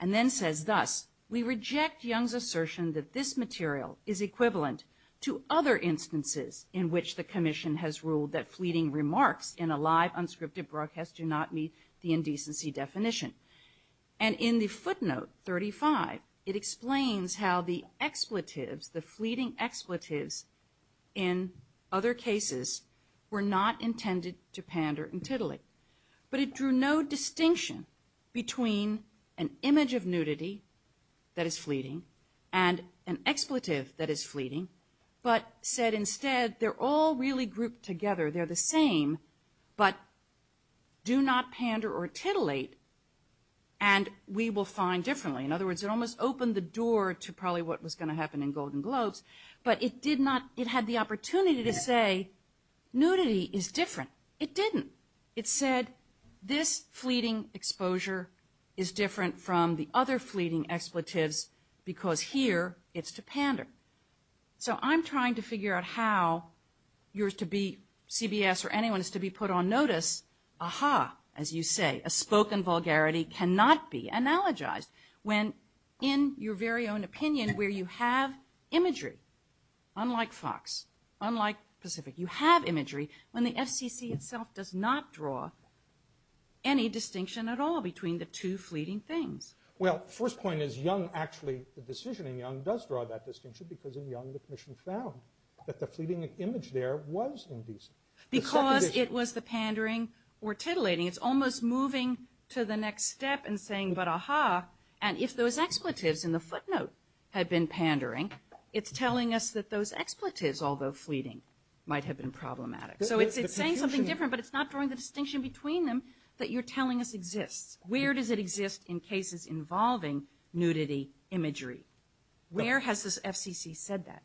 And then says, thus, we reject Young's assertion that this material is equivalent to other instances in which the Commission has ruled that fleeting remarks in a live unscripted broadcast do not meet the indecency definition. And in the footnote 35, it explains how the expletives, the fleeting expletives in other cases, were not intended to pander and titillate. But it drew no distinction between an image of nudity that is fleeting and an expletive that is fleeting, but said instead they're all really grouped together. They're the same, but do not pander or titillate, and we will find differently. In other words, it almost opened the door to probably what was going to happen in Golden Globes, but it did not – it had the opportunity to say nudity is different. Well, it didn't. It said this fleeting exposure is different from the other fleeting expletives because here it's to pander. So I'm trying to figure out how yours to be CBS or anyone's to be put on notice, aha, as you say, a spoken vulgarity cannot be analogized when in your very own opinion where you have imagery, unlike Fox, unlike Pacific. You have imagery when the SEC itself does not draw any distinction at all between the two fleeting things. Well, the first point is Young actually, the decision in Young does draw that distinction because in Young the commission found that the fleeting image there was indecent. Because it was the pandering or titillating, it's almost moving to the next step and saying, but aha, and if those expletives in the footnote had been pandering, it's telling us that those expletives, although fleeting, might have been problematic. So it's saying something different, but it's not drawing the distinction between them that you're telling us exists. Where does it exist in cases involving nudity imagery? Where has the FCC said that?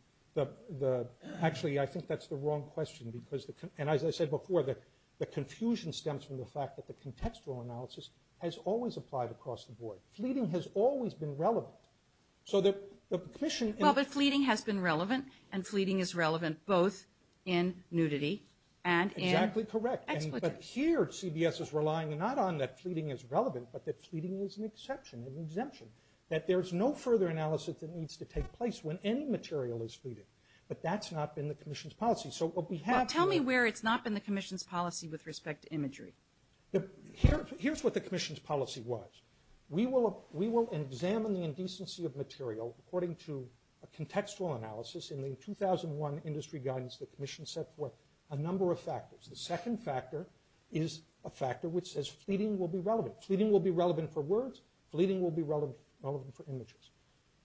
Actually, I think that's the wrong question because, and as I said before, the confusion stems from the fact that the contextual analysis has always applied across the board. Fleeting has always been relevant. Well, the fleeting has been relevant, and fleeting is relevant both in nudity and in expletives. Exactly correct. But here CBS is relying not on that fleeting is relevant, but that fleeting is an exception, an exemption, that there's no further analysis that needs to take place when any material is fleeting. But that's not been the commission's policy. Tell me where it's not been the commission's policy with respect to imagery. Here's what the commission's policy was. We will examine the indecency of material according to a contextual analysis in the 2001 industry guidance that the commission set forth a number of factors. The second factor is a factor which says fleeting will be relevant. Fleeting will be relevant for words. Fleeting will be relevant for images.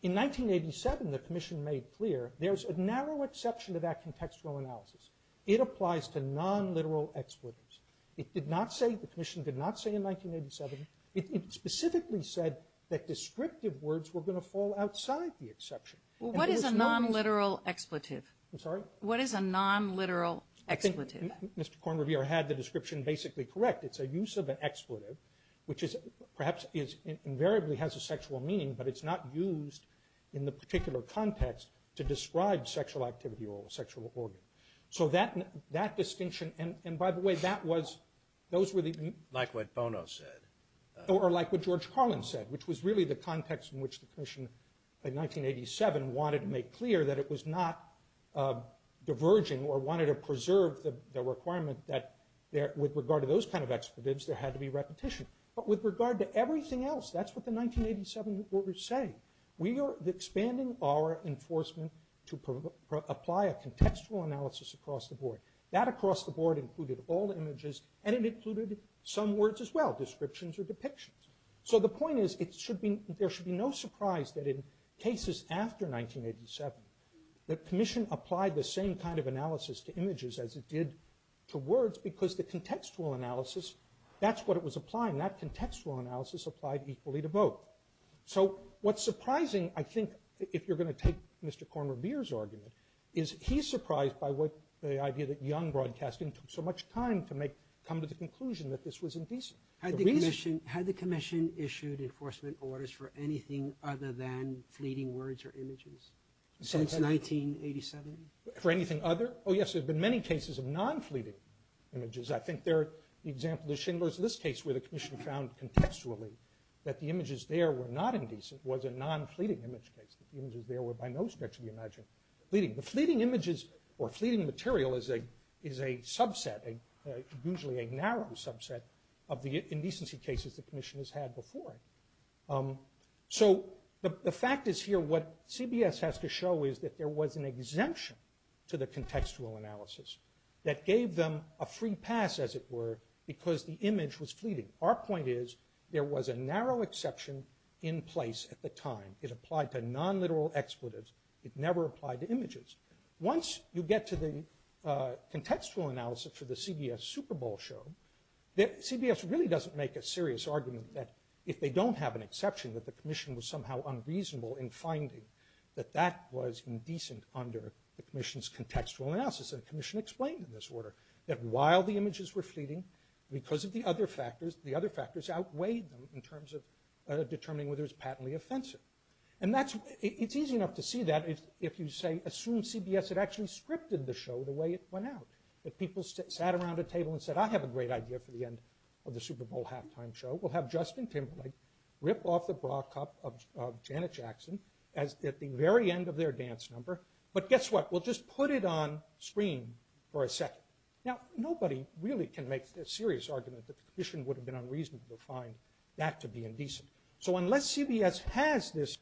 In 1987, the commission made clear there's a narrow exception to that contextual analysis. It applies to non-literal expletives. It did not say, the commission did not say in 1987, it specifically said that descriptive words were going to fall outside the exception. What is a non-literal expletive? I'm sorry? What is a non-literal expletive? I think Mr. Kornrevier had the description basically correct. It's a use of an expletive, which perhaps invariably has a sexual meaning, but it's not used in the particular context to describe sexual activity or a sexual organ. So that distinction, and by the way, that was, those were the... Like what Bono said. Or like what George Carlin said, which was really the context in which the commission in 1987 wanted to make clear that it was not diverging or wanted to preserve the requirement that with regard to those kind of expletives, there had to be repetition. But with regard to everything else, that's what the 1987 orders say. We are expanding our enforcement to apply a contextual analysis across the board. That across the board included all the images, and it included some words as well, descriptions or depictions. So the point is, it should be, there should be no surprise that in cases after 1987, the commission applied the same kind of analysis to images as it did to words because the contextual analysis, that's what it was applying. That contextual analysis applied equally to both. So what's surprising, I think, if you're going to take Mr. Kornrevier's argument, is he's surprised by the idea that Young Broadcasting took so much time to come to the conclusion that this was indecent. Had the commission issued enforcement orders for anything other than pleading words or images? Since 1987? For anything other? Oh, yes, there's been many cases of non-pleading images. I think the example of the Schindler's List case where the commission found contextually that the images there were not indecent was a non-pleading image case. The images there were by no stretch of the imagination pleading. But pleading images or pleading material is a subset, usually a narrow subset, of the indecency cases the commission has had before. So the fact is here what CBS has to show is that there was an exemption to the contextual analysis that gave them a free pass, as it were, because the image was pleading. Our point is there was a narrow exception in place at the time. It applied to non-literal expletives. It never applied to images. Once you get to the contextual analysis for the CBS Super Bowl show, CBS really doesn't make a serious argument that if they don't have an exception that the commission was somehow unreasonable in finding that that was indecent under the commission's contextual analysis. The commission explained in this order that while the images were pleading, because of the other factors, the other factors outweighed them in terms of determining whether it was patently offensive. And it's easy enough to see that if you say, assume CBS had actually scripted the show the way it went out. If people sat around a table and said, I have a great idea for the end of the Super Bowl halftime show, we'll have Justin Timberlake rip off the bra cup of Janet Jackson at the very end of their dance number. But guess what? We'll just put it on screen for a second. Now, nobody really can make a serious argument that the commission would have been unreasonable to find that to be indecent. So unless CBS has this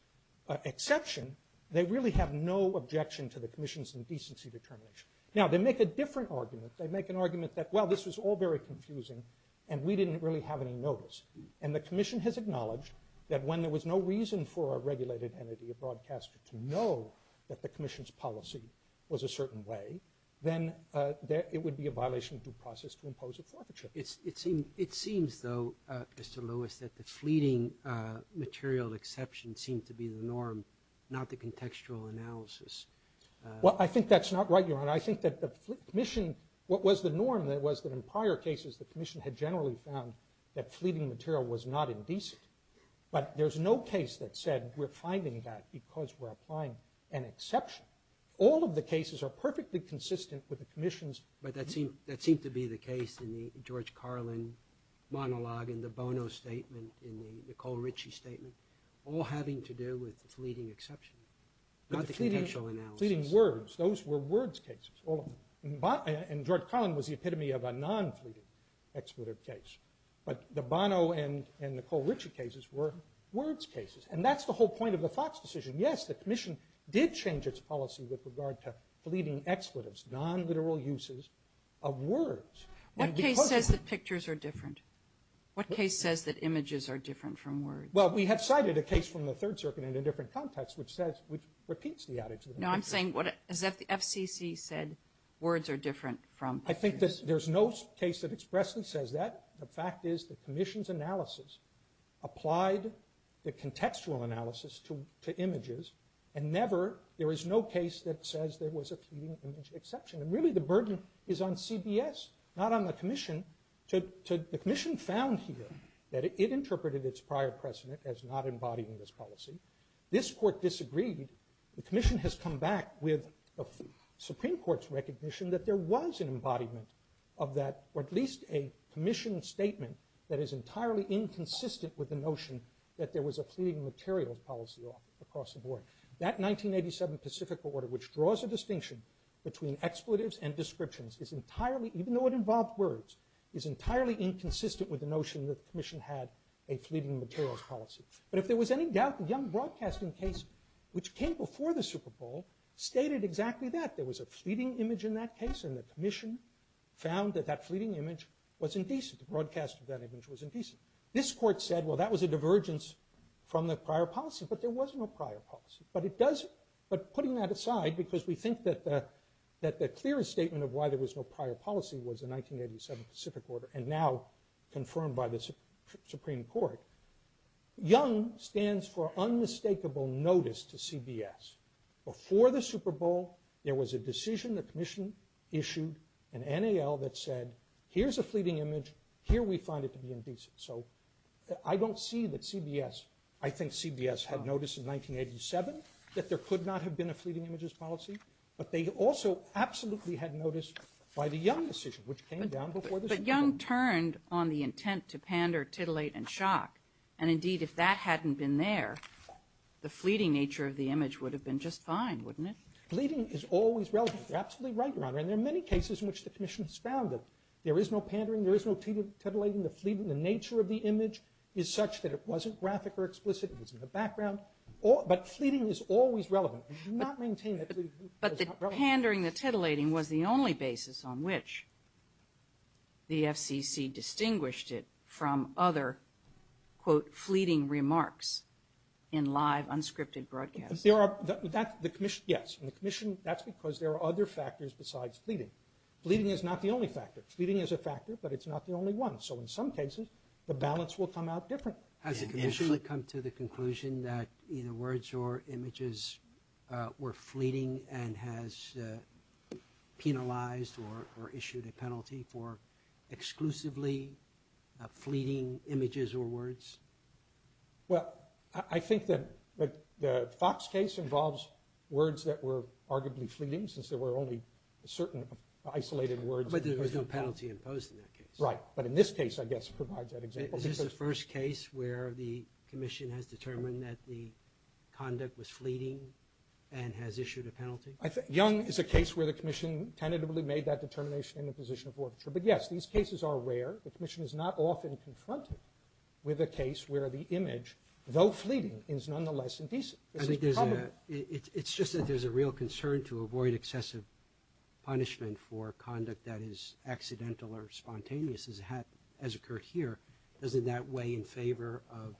exception, they really have no objection to the commission's indecency determination. Now, they make a different argument. They make an argument that, well, this was all very confusing and we didn't really have any notice. And the commission has acknowledged that when there was no reason for a regulated entity, a broadcaster, to know that the commission's policy was a certain way, then it would be a violation of due process to impose a forfeiture. It seems, though, Mr. Lewis, that the fleeting material exception seems to be the norm, not the contextual analysis. Well, I think that's not right, Your Honor. I think that the commission, what was the norm that was in prior cases, the commission had generally found that fleeting material was not indecent. But there's no case that said we're finding that because we're applying an exception. All of the cases are perfectly consistent with the commission's... But that seemed to be the case in the George Carlin monologue, in the Bono statement, in the Nicole Ritchie statement, all having to do with fleeting exception, not the contextual analysis. Fleeting words. Those were words cases. And George Carlin was the epitome of a non-fleeting expletive case. But the Bono and Nicole Ritchie cases were words cases. And that's the whole point of the Fox decision. Yes, the commission did change its policy with regard to fleeting expletives, non-literal uses of words. What case says that pictures are different? What case says that images are different from words? Well, we have cited a case from the Third Circuit in a different context which repeats the attitude. No, I'm saying that the FCC said words are different from pictures. I think there's no case that expressly says that. The fact is the commission's analysis applied the contextual analysis to images, and there is no case that says there was a fleeting image exception. And really the burden is on CBS, not on the commission. The commission found here that it interpreted its prior precedent as not embodying this policy. This court disagreed. The commission has come back with the Supreme Court's recognition that there was an embodiment of that, or at least a commissioned statement that is entirely inconsistent with the notion that there was a fleeting material policy across the board. That 1987 Pacific Order, which draws a distinction between expletives and descriptions, is entirely, even though it involved words, is entirely inconsistent with the notion that the commission had a fleeting material policy. But if there was any doubt, the Young Broadcasting case, which came before the Super Bowl, stated exactly that. There was a fleeting image in that case, and the commission found that that fleeting image was indecent. The broadcast of that image was indecent. This court said, well, that was a divergence from the prior policy, but there was no prior policy. But putting that aside, because we think that the clearest statement of why there was no prior policy was the 1987 Pacific Order, and now confirmed by the Supreme Court, Young stands for unmistakable notice to CBS. Before the Super Bowl, there was a decision the commission issued, an NAL, that said, here's a fleeting image, here we found it to be indecent. So I don't see that CBS... I think CBS had noticed in 1987 that there could not have been a fleeting images policy, but they also absolutely had noticed by the Young decision, which came down before the Super Bowl. But Young turned on the intent to pander, titillate, and shock. And indeed, if that hadn't been there, the fleeting nature of the image would have been just fine, wouldn't it? Fleeting is always relevant. You're absolutely right, Your Honor. And there are many cases in which the commission has found that there is no pandering, there is no titillating, the nature of the image is such that it wasn't graphic or explicit, it was in the background. But fleeting is always relevant. But the pandering, the titillating, was the only basis on which the FCC distinguished it from other, quote, fleeting remarks in live, unscripted broadcasts. Yes. That's because there are other factors besides fleeting. Fleeting is not the only factor. Fleeting is a factor, but it's not the only one. So in some cases, the balance will come out differently. Has the commission come to the conclusion that either words or images were fleeting and has penalized or issued a penalty for exclusively fleeting images or words? Well, I think that the Fox case involves words that were arguably fleeting since there were only certain isolated words. But there was no penalty imposed in that case. Right. But in this case, I guess, it provides that example. Is this the first case where the commission has determined that the conduct was fleeting and has issued a penalty? Young is a case where the commission tentatively made that determination in the position of order. But yes, these cases are rare. The commission is not often confronted with a case where the image, though fleeting, is nonetheless indecent. It's just that there's a real concern to avoid excessive punishment for conduct that is accidental or spontaneous, as occurred here. Is it that way in favor of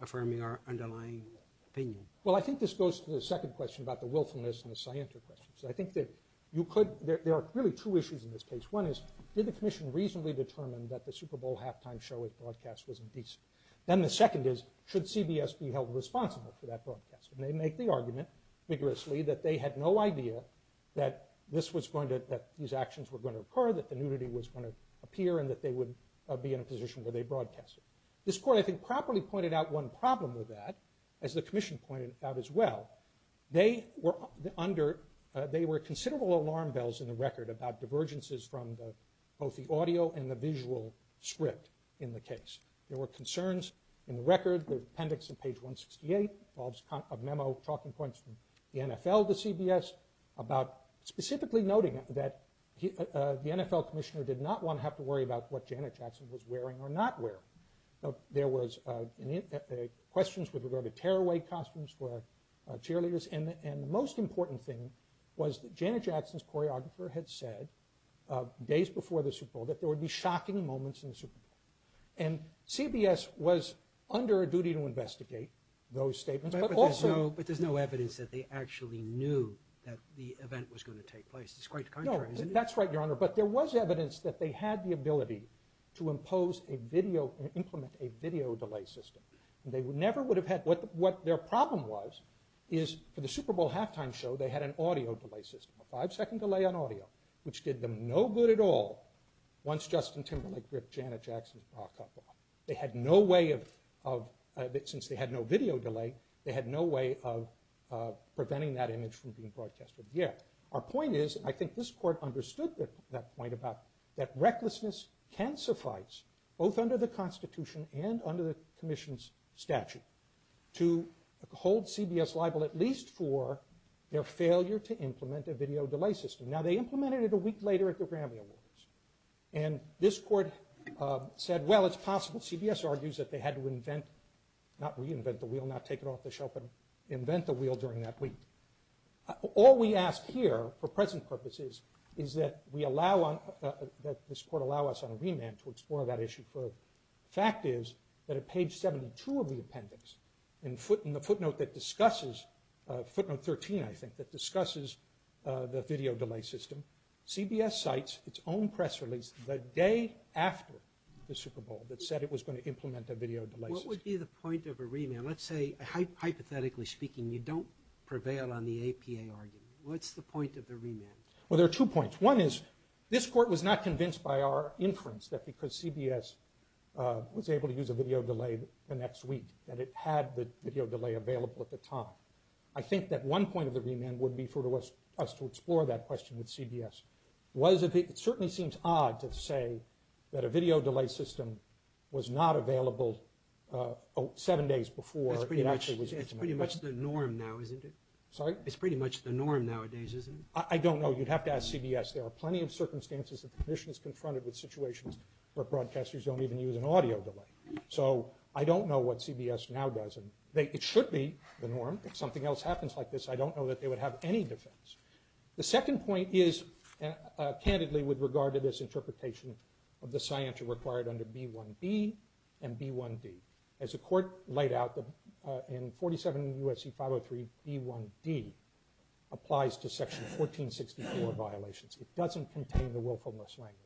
affirming our underlying opinion? Well, I think this goes to the second question about the wilfulness and the scienter questions. I think that there are really two issues in this case. One is, did the commission reasonably determine that the Super Bowl halftime show broadcast was indecent? Then the second is, should CBS be held responsible for that broadcast? They make the argument, vigorously, that they had no idea that these actions were going to occur, that the nudity was going to appear and that they would be in a position where they broadcast it. This court, I think, properly pointed out one problem with that, as the commission pointed out as well. They were under... They were considerable alarm bells in the record about divergences from both the audio and the visual script in the case. There were concerns in the record, the appendix on page 168, involves a memo talking points from the NFL to CBS about specifically noting that the NFL commissioner did not want to have to worry about what Janet Jackson was wearing or not wear. There was... Questions with regard to tearaway costumes for cheerleaders. And the most important thing was that Janet Jackson's choreographer had said days before the Super Bowl that there would be shocking moments in the Super Bowl. And CBS was under a duty to investigate those statements, but also... But there's no evidence that they actually knew It's quite the contrary, isn't it? That's right, Your Honor, but there was evidence that they had the ability to impose a video and implement a video delay system. They never would have had... What their problem was is, for the Super Bowl halftime show, they had an audio delay system, a five-second delay on audio, which did them no good at all once Justin Timberlake ripped Janet Jackson's top off. They had no way of... Since they had no video delay, they had no way of preventing that image from being broadcasted again. Our point is, and I think this Court understood that point, that recklessness can suffice, both under the Constitution and under the Commission's statute, to hold CBS liable at least for their failure to implement a video delay system. Now, they implemented it a week later at the Grammy Awards. And this Court said, well, it's possible CBS argues that they had to invent... Not reinvent the wheel, not take it off the shelf and invent the wheel during that week. All we ask here, for present purposes, is that we allow... That this Court allow us on a remand to explore that issue further. The fact is that at page 72 of the appendix, in the footnote that discusses... Footnote 13, I think, that discusses the video delay system, CBS cites its own press release the day after the Super Bowl that said it was going to implement a video delay system. What would be the point of a remand? Now, let's say, hypothetically speaking, you don't prevail on the APA argument. What's the point of a remand? Well, there are two points. One is, this Court was not convinced by our inference that because CBS was able to use a video delay the next week that it had the video delay available at the time. I think that one point of the remand would be for us to explore that question with CBS. It certainly seems odd to say that a video delay system was not available seven days before... It's pretty much the norm now, isn't it? Sorry? It's pretty much the norm nowadays, isn't it? I don't know. You'd have to ask CBS. There are plenty of circumstances that the Commission is confronted with situations where broadcasters don't even use an audio delay. So, I don't know what CBS now does. It should be the norm. If something else happens like this, I don't know that they would have any defense. The second point is candidly with regard to this interpretation of the science required under B1B and B1D. As the Court laid out, in 47 U.S.C. 503, B1D applies to Section 1464 violations. It doesn't contain the willfulness language.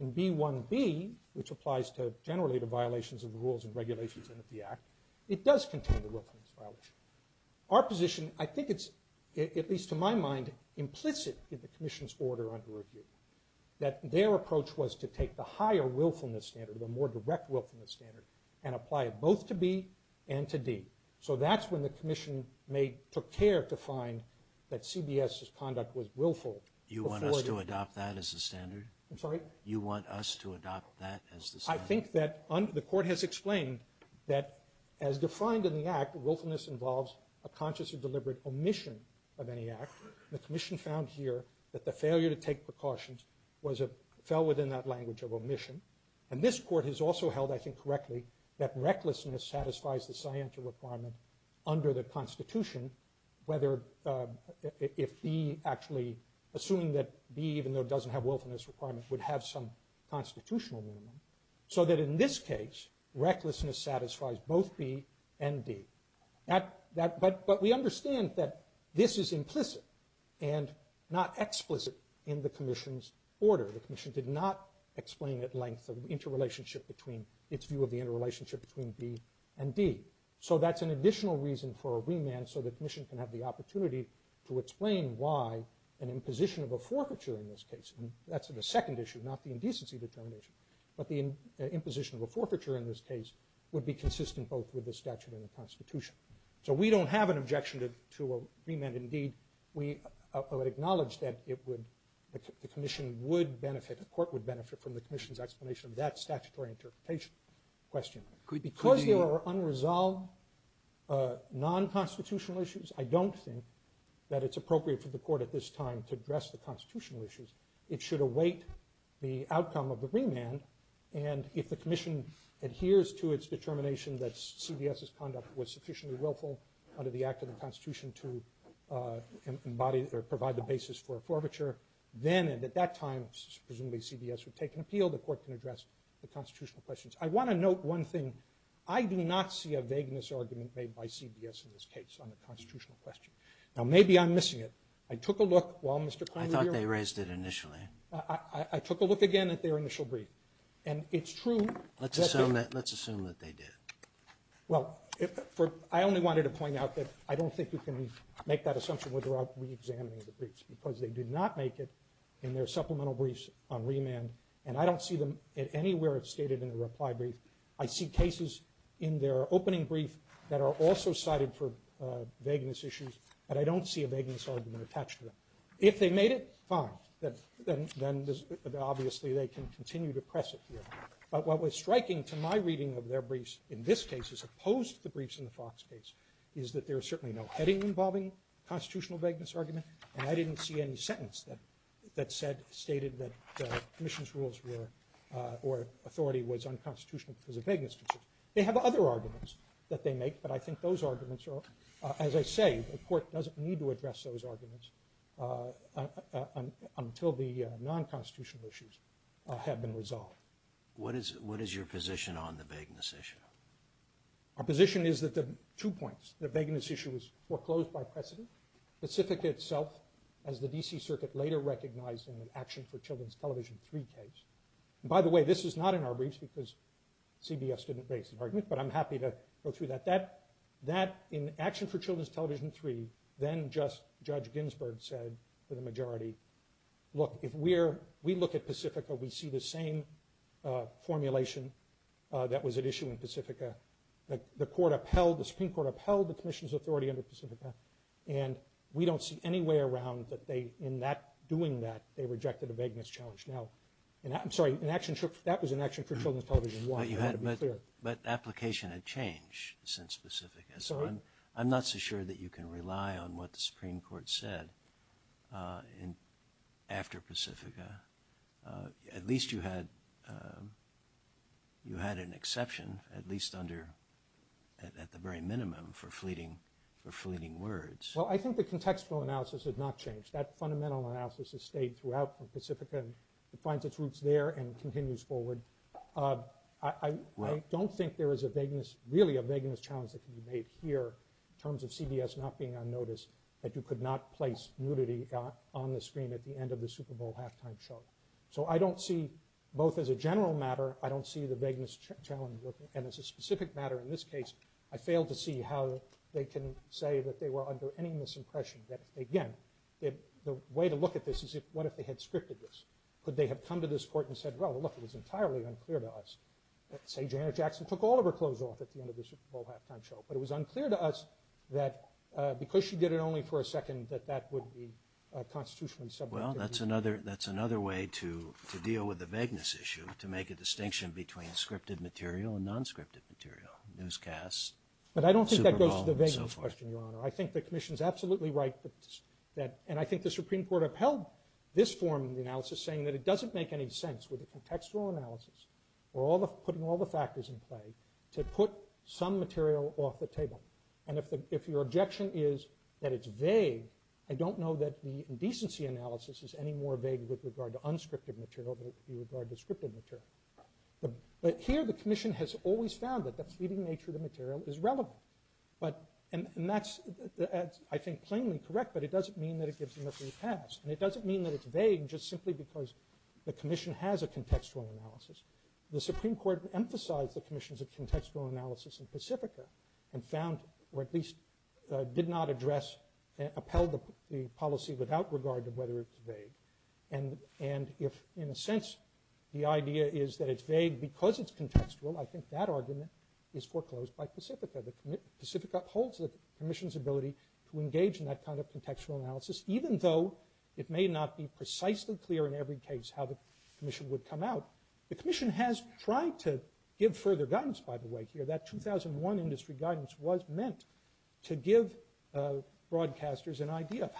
In B1B, which applies to generally the violations of the rules and regulations of the Act, it does contain the willfulness violation. Our position, I think it's, at least to my mind, implicit in the Commission's order under review, that their approach was to take the higher willfulness standard, the more direct willfulness standard, and apply it both to B and to D. So, that's when the Commission took care to find that CBS's conduct was willful. You want us to adopt that as the standard? I'm sorry? You want us to adopt that as the standard? I think that the Court has explained that, as defined in the Act, willfulness involves a consciously deliberate omission of any act. The Commission found here that the failure to take precautions fell within that language of omission. And this Court has also held, I think correctly, that recklessness satisfies the scientific requirement under the Constitution, whether if B actually, assuming that B, even though it doesn't have willfulness requirements, would have some constitutional meaning. So that in this case, recklessness satisfies both B and D. But we understand that this is implicit and not explicit in the Commission's order. The Commission did not explain at length the interrelationship between, its view of the interrelationship between B and D. So that's an additional reason for a remand so the Commission can have the opportunity to explain why an imposition of a forfeiture in this case, and that's the second issue, not the indecency determination, but the imposition of a forfeiture in this case would be consistent both with the statute and the Constitution. So we don't have an objection to a remand indeed. We acknowledge that the Commission would benefit, the Court would benefit from the Commission's explanation of that statutory interpretation question. Because there are unresolved non-constitutional issues, I don't think that it's appropriate for the Court at this time to address the constitutional issues. It should await the outcome of the remand, and if the Commission adheres to its determination that CBS's conduct was sufficiently willful under the act of the Constitution to embody or provide the basis for a forfeiture, then and at that time, presumably CBS would take an appeal, the Court can address the constitutional questions. I want to note one thing. I do not see a vagueness argument made by CBS in this case on the constitutional question. Now maybe I'm missing it. I took a look while Mr. Kline was here. I thought they raised it initially. I took a look again at their initial brief, and it's true. Let's assume that they did. Well, I only wanted to point out that I don't think you can make that assumption without reexamining the briefs, because they did not make it in their supplemental briefs on remand, and I don't see them anywhere stated in the reply brief. I see cases in their opening brief that are also cited for vagueness issues, but I don't see a vagueness argument attached to them. If they made it, fine. Then obviously they can continue to press it here. But what was striking to my reading of their briefs in this case as opposed to the briefs in the Fox case is that there is certainly no heading involving a constitutional vagueness argument, and I didn't see any sentence that stated that the Commission's rules were, or authority was unconstitutional because of vagueness. They have other arguments that they make, but I think those arguments are, as I say, the Court doesn't need to address those arguments until the non-constitutional issues have been resolved. What is your position on the vagueness issue? My position is that there are two points. The vagueness issue was foreclosed by precedent, specifically itself as the D.C. Circuit later recognized in the Action for Children's Television 3 case. By the way, this is not in our briefs because CBS didn't base an argument, but I'm happy to go through that. In Action for Children's Television 3, then-Justice Judge Ginsburg said to the majority, look, if we look at Pacifica, we see the same formulation that was at issue in Pacifica. The Supreme Court upheld the Commission's authority under Pacifica, and we don't see any way around that in doing that, they rejected the vagueness charge. I'm sorry, that was in Action for Children's Television 1. But the application had changed since Pacifica. I'm not so sure that you can rely on what the Supreme Court said after Pacifica. At least you had an exception, at least at the very minimum, for fleeting words. Well, I think the contextual analysis has not changed. That fundamental analysis has stayed throughout Pacifica and finds its roots there and continues forward. I don't think there is a vagueness, really a vagueness challenge that can be made here in terms of CBS not being unnoticed, that you could not place nudity on the screen at the end of the Super Bowl halftime show. So I don't see, both as a general matter, I don't see the vagueness challenge, and as a specific matter in this case, I failed to see how they can say that they were under any misimpression. Again, the way to look at this is what if they had scripted this? Could they have come to this court and said, well, look, it was entirely unclear to us. Say Janet Jackson took all of her clothes off at the end of the Super Bowl halftime show, but it was unclear to us that because she did it only for a second that that would be constitutionally subject to nudity. Well, that's another way to deal with the vagueness issue, to make a distinction between scripted material and non-scripted material, newscasts, Super Bowl, and so forth. But I don't think that goes to the vagueness question, Your Honor. I think the Commission is absolutely right, and I think the Supreme Court upheld this form in the analysis saying that it doesn't make any sense, whether from textual analysis or putting all the factors in play, to put some material off the table. And if your objection is that it's vague, I don't know that the indecency analysis is any more vague with regard to unscripted material than with regard to scripted material. But here the Commission has always found that the feeding nature of the material is relevant. And that's, I think, plainly correct, but it doesn't mean that it gives you nothing to pass. And it doesn't mean that it's vague just simply because the Commission has a contextual analysis. The Supreme Court emphasized the Commission's contextual analysis in Pacifica and found, or at least did not address, upheld the policy without regard to whether it's vague. And if, in a sense, the idea is that it's vague because it's contextual, I think that argument is foreclosed by Pacifica. Pacifica holds the Commission's ability to engage in that kind of contextual analysis, even though it may not be precisely clear in every case how the Commission would come out. The Commission has tried to give further guidance, by the way, that 2001 industry guidance was meant to give broadcasters an idea of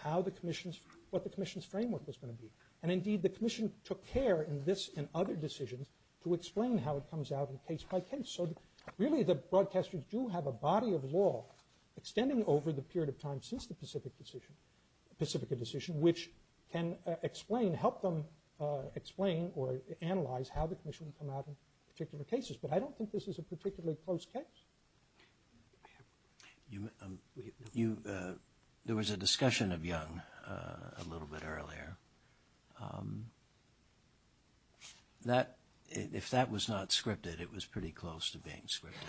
what the Commission's framework was going to be. And, indeed, the Commission took care in this and other decisions to explain how it comes out in a case-by-case. So really the broadcasters do have a body of law extending over the period of time since the Pacific decision. Which can explain, help them explain or analyze how the Commission would come out in particular cases. But I don't think this is a particularly close case. There was a discussion of Young a little bit earlier. If that was not scripted, it was pretty close to being scripted.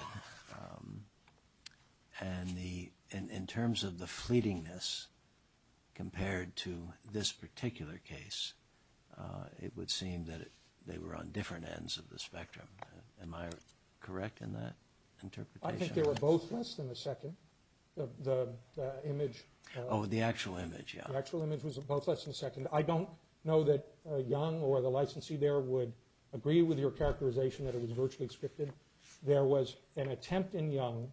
And in terms of the fleetingness compared to this particular case, it would seem that they were on different ends of the spectrum. Am I correct in that interpretation? I think there were both tests in the second. The image... Oh, the actual image, yeah. The actual image was both tests in the second. I don't know that Young or the licensee there would agree with your characterization that it was virtually scripted. There was an attempt in Young,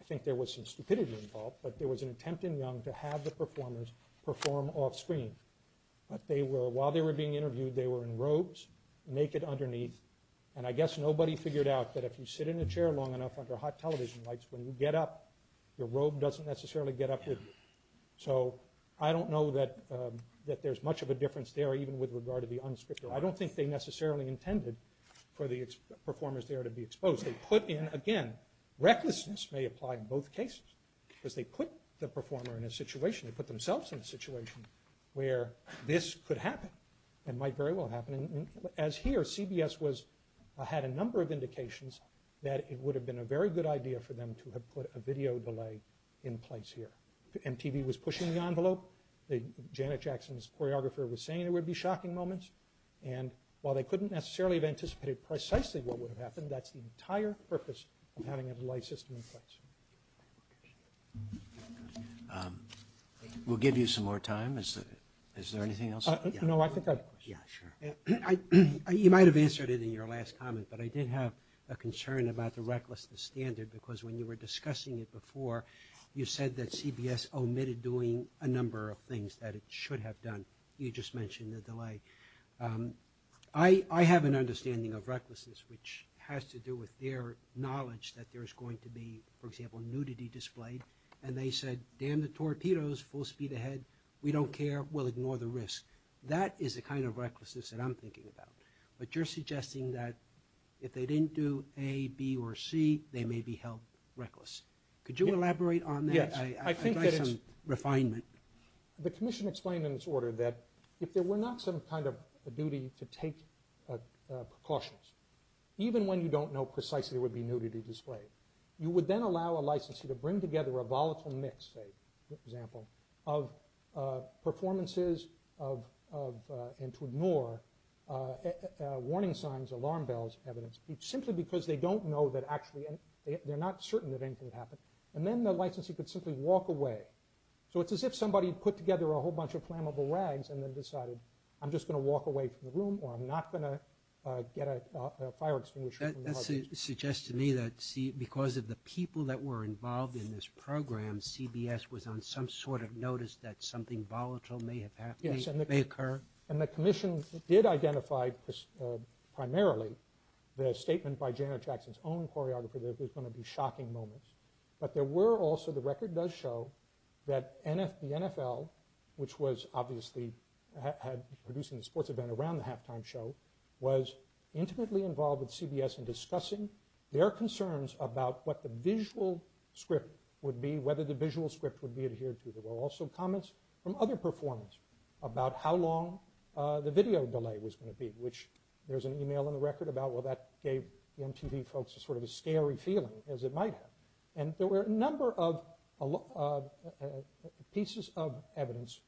I think there was some stupidity involved, but there was an attempt in Young to have the performers perform offscreen. While they were being interviewed, they were in robes, naked underneath. And I guess nobody figured out that if you sit in a chair long enough under hot television lights, when you get up, your robe doesn't necessarily get up your... So I don't know that there's much of a difference there even with regard to the unscripted. I don't think they necessarily intended for the performers there to be exposed. They put in, again, recklessness may apply in both cases because they put the performer in a situation, they put themselves in a situation where this could happen and might very well happen. As here, CBS had a number of indications that it would have been a very good idea for them to have put a video delay in place here. MTV was pushing the envelope. Janet Jackson's choreographer was saying there would be shocking moments. And while they couldn't necessarily have anticipated precisely what would have happened, that's the entire purpose of having a delay system in place. We'll give you some more time. Is there anything else? No, I think I... You might have answered it in your last comment, but I did have a concern about the recklessness standard because when you were discussing it before, you said that CBS omitted doing a number of things that it should have done. You just mentioned the delay. I have an understanding of recklessness, which has to do with their knowledge that there's going to be, for example, nudity displayed, and they said, damn the torpedoes, full speed ahead, we don't care, we'll ignore the risk. That is the kind of recklessness that I'm thinking about. But you're suggesting that if they didn't do A, B, or C, they may be held reckless. Could you elaborate on that? I'd like some refinement. The commission explained in this order that if there were not some kind of duty to take precautions, even when you don't know precisely what would be nudity displayed, you would then allow a licensee to bring together a volatile mix, say, for example, of performances and to ignore warning signs, alarm bells, evidence, simply because they don't know that actually, they're not certain that anything would happen. And then the licensee could simply walk away. So it's as if somebody put together a whole bunch of flammable rags and then decided, I'm just going to walk away from the room or I'm not going to get a fire extinguisher. That suggests to me that because of the people that were involved in this program, CBS was on some sort of notice that something volatile may have happened, may occur. And the commission did identify primarily the statement by Janet Jackson's own choreographer that there's going to be shocking moments. But there were also, the record does show, that the NFL, which was obviously producing the sports event around the halftime show, was intimately involved with CBS in discussing their concerns about what the visual script would be, whether the visual script would be adhered to. There were also comments from other performers about how long the video delay was going to be, which there's an email on the record about, well, that gave MTV folks sort of a scary feeling, as it might have. And there were a number of pieces of evidence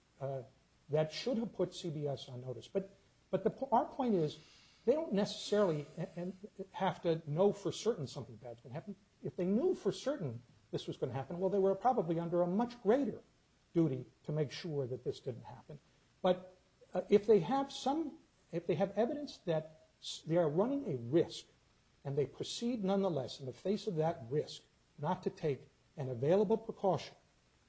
that should have put CBS on notice. But our point is, they don't necessarily have to know for certain something bad is going to happen. If they knew for certain this was going to happen, well, they were probably under a much greater duty to make sure that this didn't happen. But if they have evidence that they are running a risk and they proceed, nonetheless, in the face of that risk, not to take an available precaution,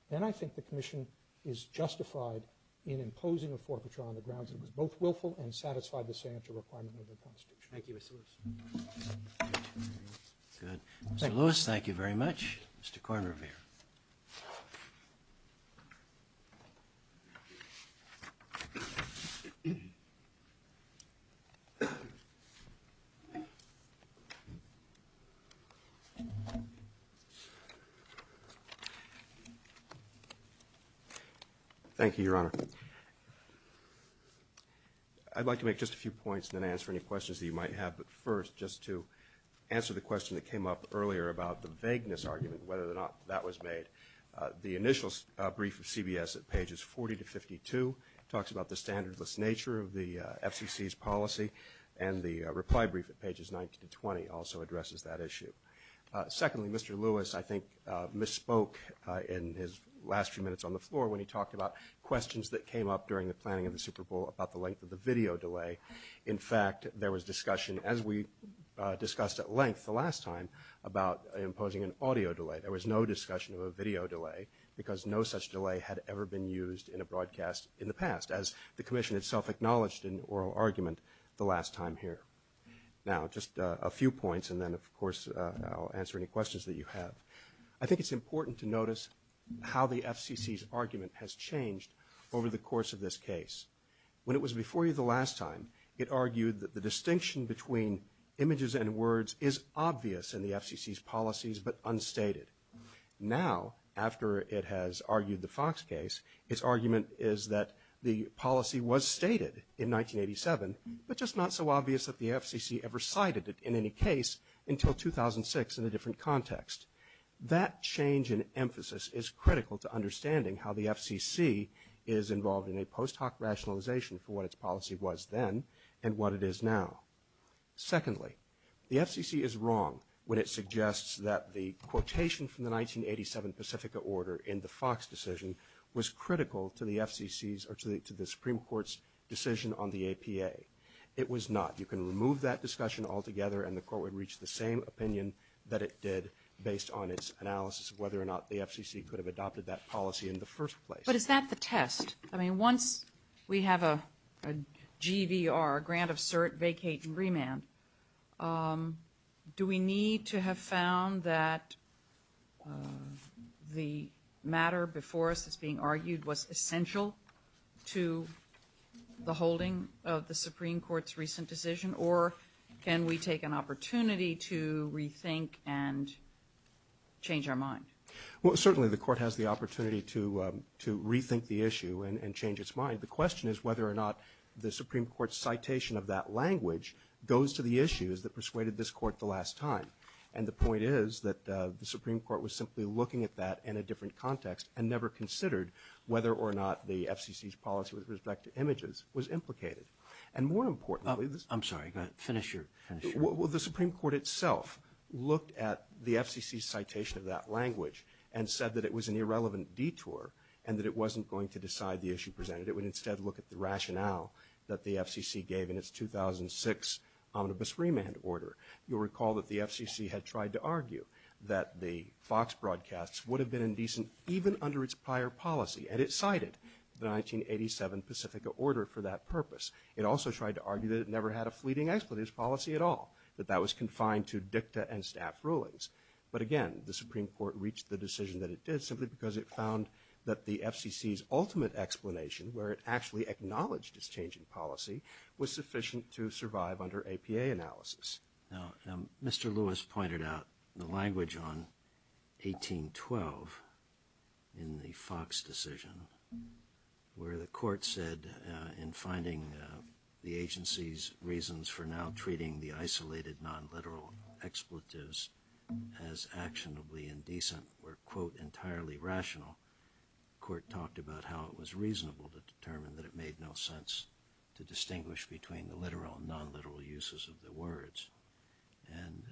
then I think the commission is justified in imposing a forfeiture on the grounds that it was both willful and satisfied with the sanitary requirements of the policy. Thank you, Mr. Lewis. Good. Mr. Lewis, thank you very much. Mr. Kornrever. Thank you, Your Honor. I'd like to make just a few points and then answer any questions that you might have. But first, just to answer the question that came up earlier about the vagueness argument, whether or not that was made, the initial brief of CBS at pages 40 to 52 talks about the standardless nature of the FCC's policy talks about the standardless nature of the FCC's policy also addresses that issue. Secondly, Mr. Lewis, I think, misspoke in his last few minutes on the floor when he talked about questions that came up during the planning of the Super Bowl about the length of the video delay. In fact, there was discussion, as we discussed at length the last time, about imposing an audio delay. There was no discussion of a video delay because no such delay had ever been used in a broadcast in the past, as the commission itself acknowledged in oral argument the last time here. Now, just a few points, and then, of course, I'll answer any questions that you have. I think it's important to notice how the FCC's argument has changed over the course of this case. When it was before you the last time, it argued that the distinction between images and words is obvious in the FCC's policies but unstated. Now, after it has argued the Fox case, its argument is that the policy was stated in 1987, but just not so obvious that the FCC ever cited it in any case until 2006 in a different context. That change in emphasis is critical to understanding how the FCC is involved in a post-hoc rationalization for what its policy was then and what it is now. Secondly, the FCC is wrong when it suggests that the quotation from the 1987 Pacifica order in the Fox decision was critical to the FCC's or to the Supreme Court's decision on the APA. It was not. You can remove that discussion altogether and the Court would reach the same opinion that it did based on its analysis of whether or not the FCC could have adopted that policy in the first place. But is that the test? I mean, once we have a GVR, grant of cert, vacate, and remand, do we need to have found that the matter before us being argued was essential to the holding of the Supreme Court's recent decision? Or can we take an opportunity to rethink and change our mind? Well, certainly the Court has the opportunity to rethink the issue and change its mind. The question is whether or not the Supreme Court's citation of that language goes to the issues that persuaded this Court the last time. And the point is that the Supreme Court was simply looking at that in a different context and never considered whether or not the FCC's policy with respect to images was implicated. And more importantly... I'm sorry. Go ahead. Finish your answer. Well, the Supreme Court itself looked at the FCC's citation of that language and said that it was an irrelevant detour and that it wasn't going to decide the issue presented. It would instead look at the rationale that the FCC gave in its 2006 omnibus remand order. You'll recall that the FCC had tried to argue that the Fox broadcasts would have been indecent even under its prior policy, and it cited the 1987 Pacifica order for that purpose. It also tried to argue that it never had a fleeting explanation of this policy at all, that that was confined to dicta and staff rulings. But again, the Supreme Court reached the decision that it did simply because it found that the FCC's ultimate explanation, where it actually acknowledged its change in policy, was sufficient to survive under APA analysis. Now, Mr. Lewis pointed out the language on 1812 in the Fox decision where the court said in finding the agency's reasons for now treating the isolated non-literal expletives as actionably indecent were, quote, entirely rational, the court talked about how it was reasonable to determine that it made no sense to distinguish between the literal and non-literal uses of the words. And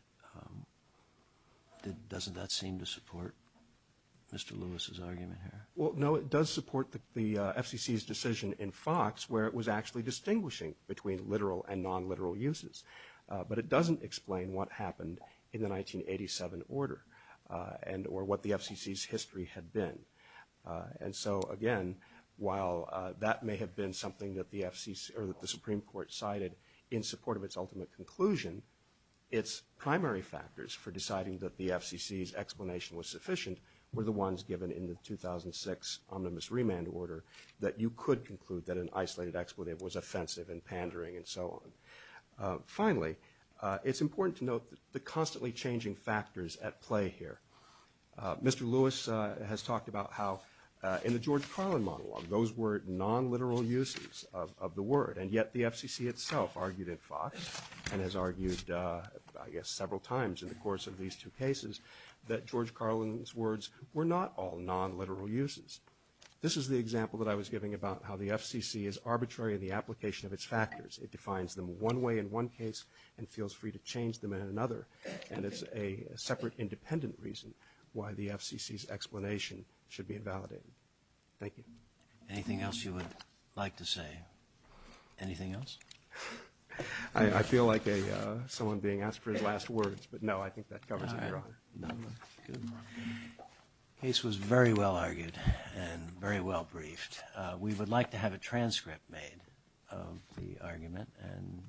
doesn't that seem to support Mr. Lewis's argument here? Well, no, it does support the FCC's decision in Fox where it was actually distinguishing between literal and non-literal uses, but it doesn't explain what happened in the 1987 order and or what the FCC's history had been. And so, again, while that may have been something that the Supreme Court cited in support of its ultimate conclusion, its primary factors for deciding that the FCC's explanation was sufficient were the ones given in the 2006 omnibus remand order that you could conclude that an isolated expletive was offensive and pandering and so on. Finally, it's important to note the constantly changing factors at play here. Mr. Lewis has talked about how in the George Carlin monologue, those were non-literal uses of the word, and yet the FCC itself argued in Fox and has argued, I guess, several times in the course of these two cases that George Carlin's words were not all non-literal uses. This is the example that I was giving about how the FCC is arbitrary in the application of its factors. It defines them one way in one case and feels free to change them in another, and it's a separate independent reason why the FCC's explanation should be invalidated. Thank you. Anything else you would like to say? Anything else? I feel like someone being asked for his last words, but no, I think that covers it. Good. The case was very well argued and very well briefed. We would like to have a transcript made of the argument and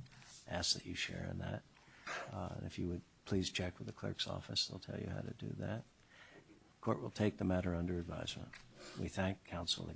ask that you share in that. If you would please check with the clerk's office, they'll tell you how to do that. The court will take the matter under advisement. We thank counsel again.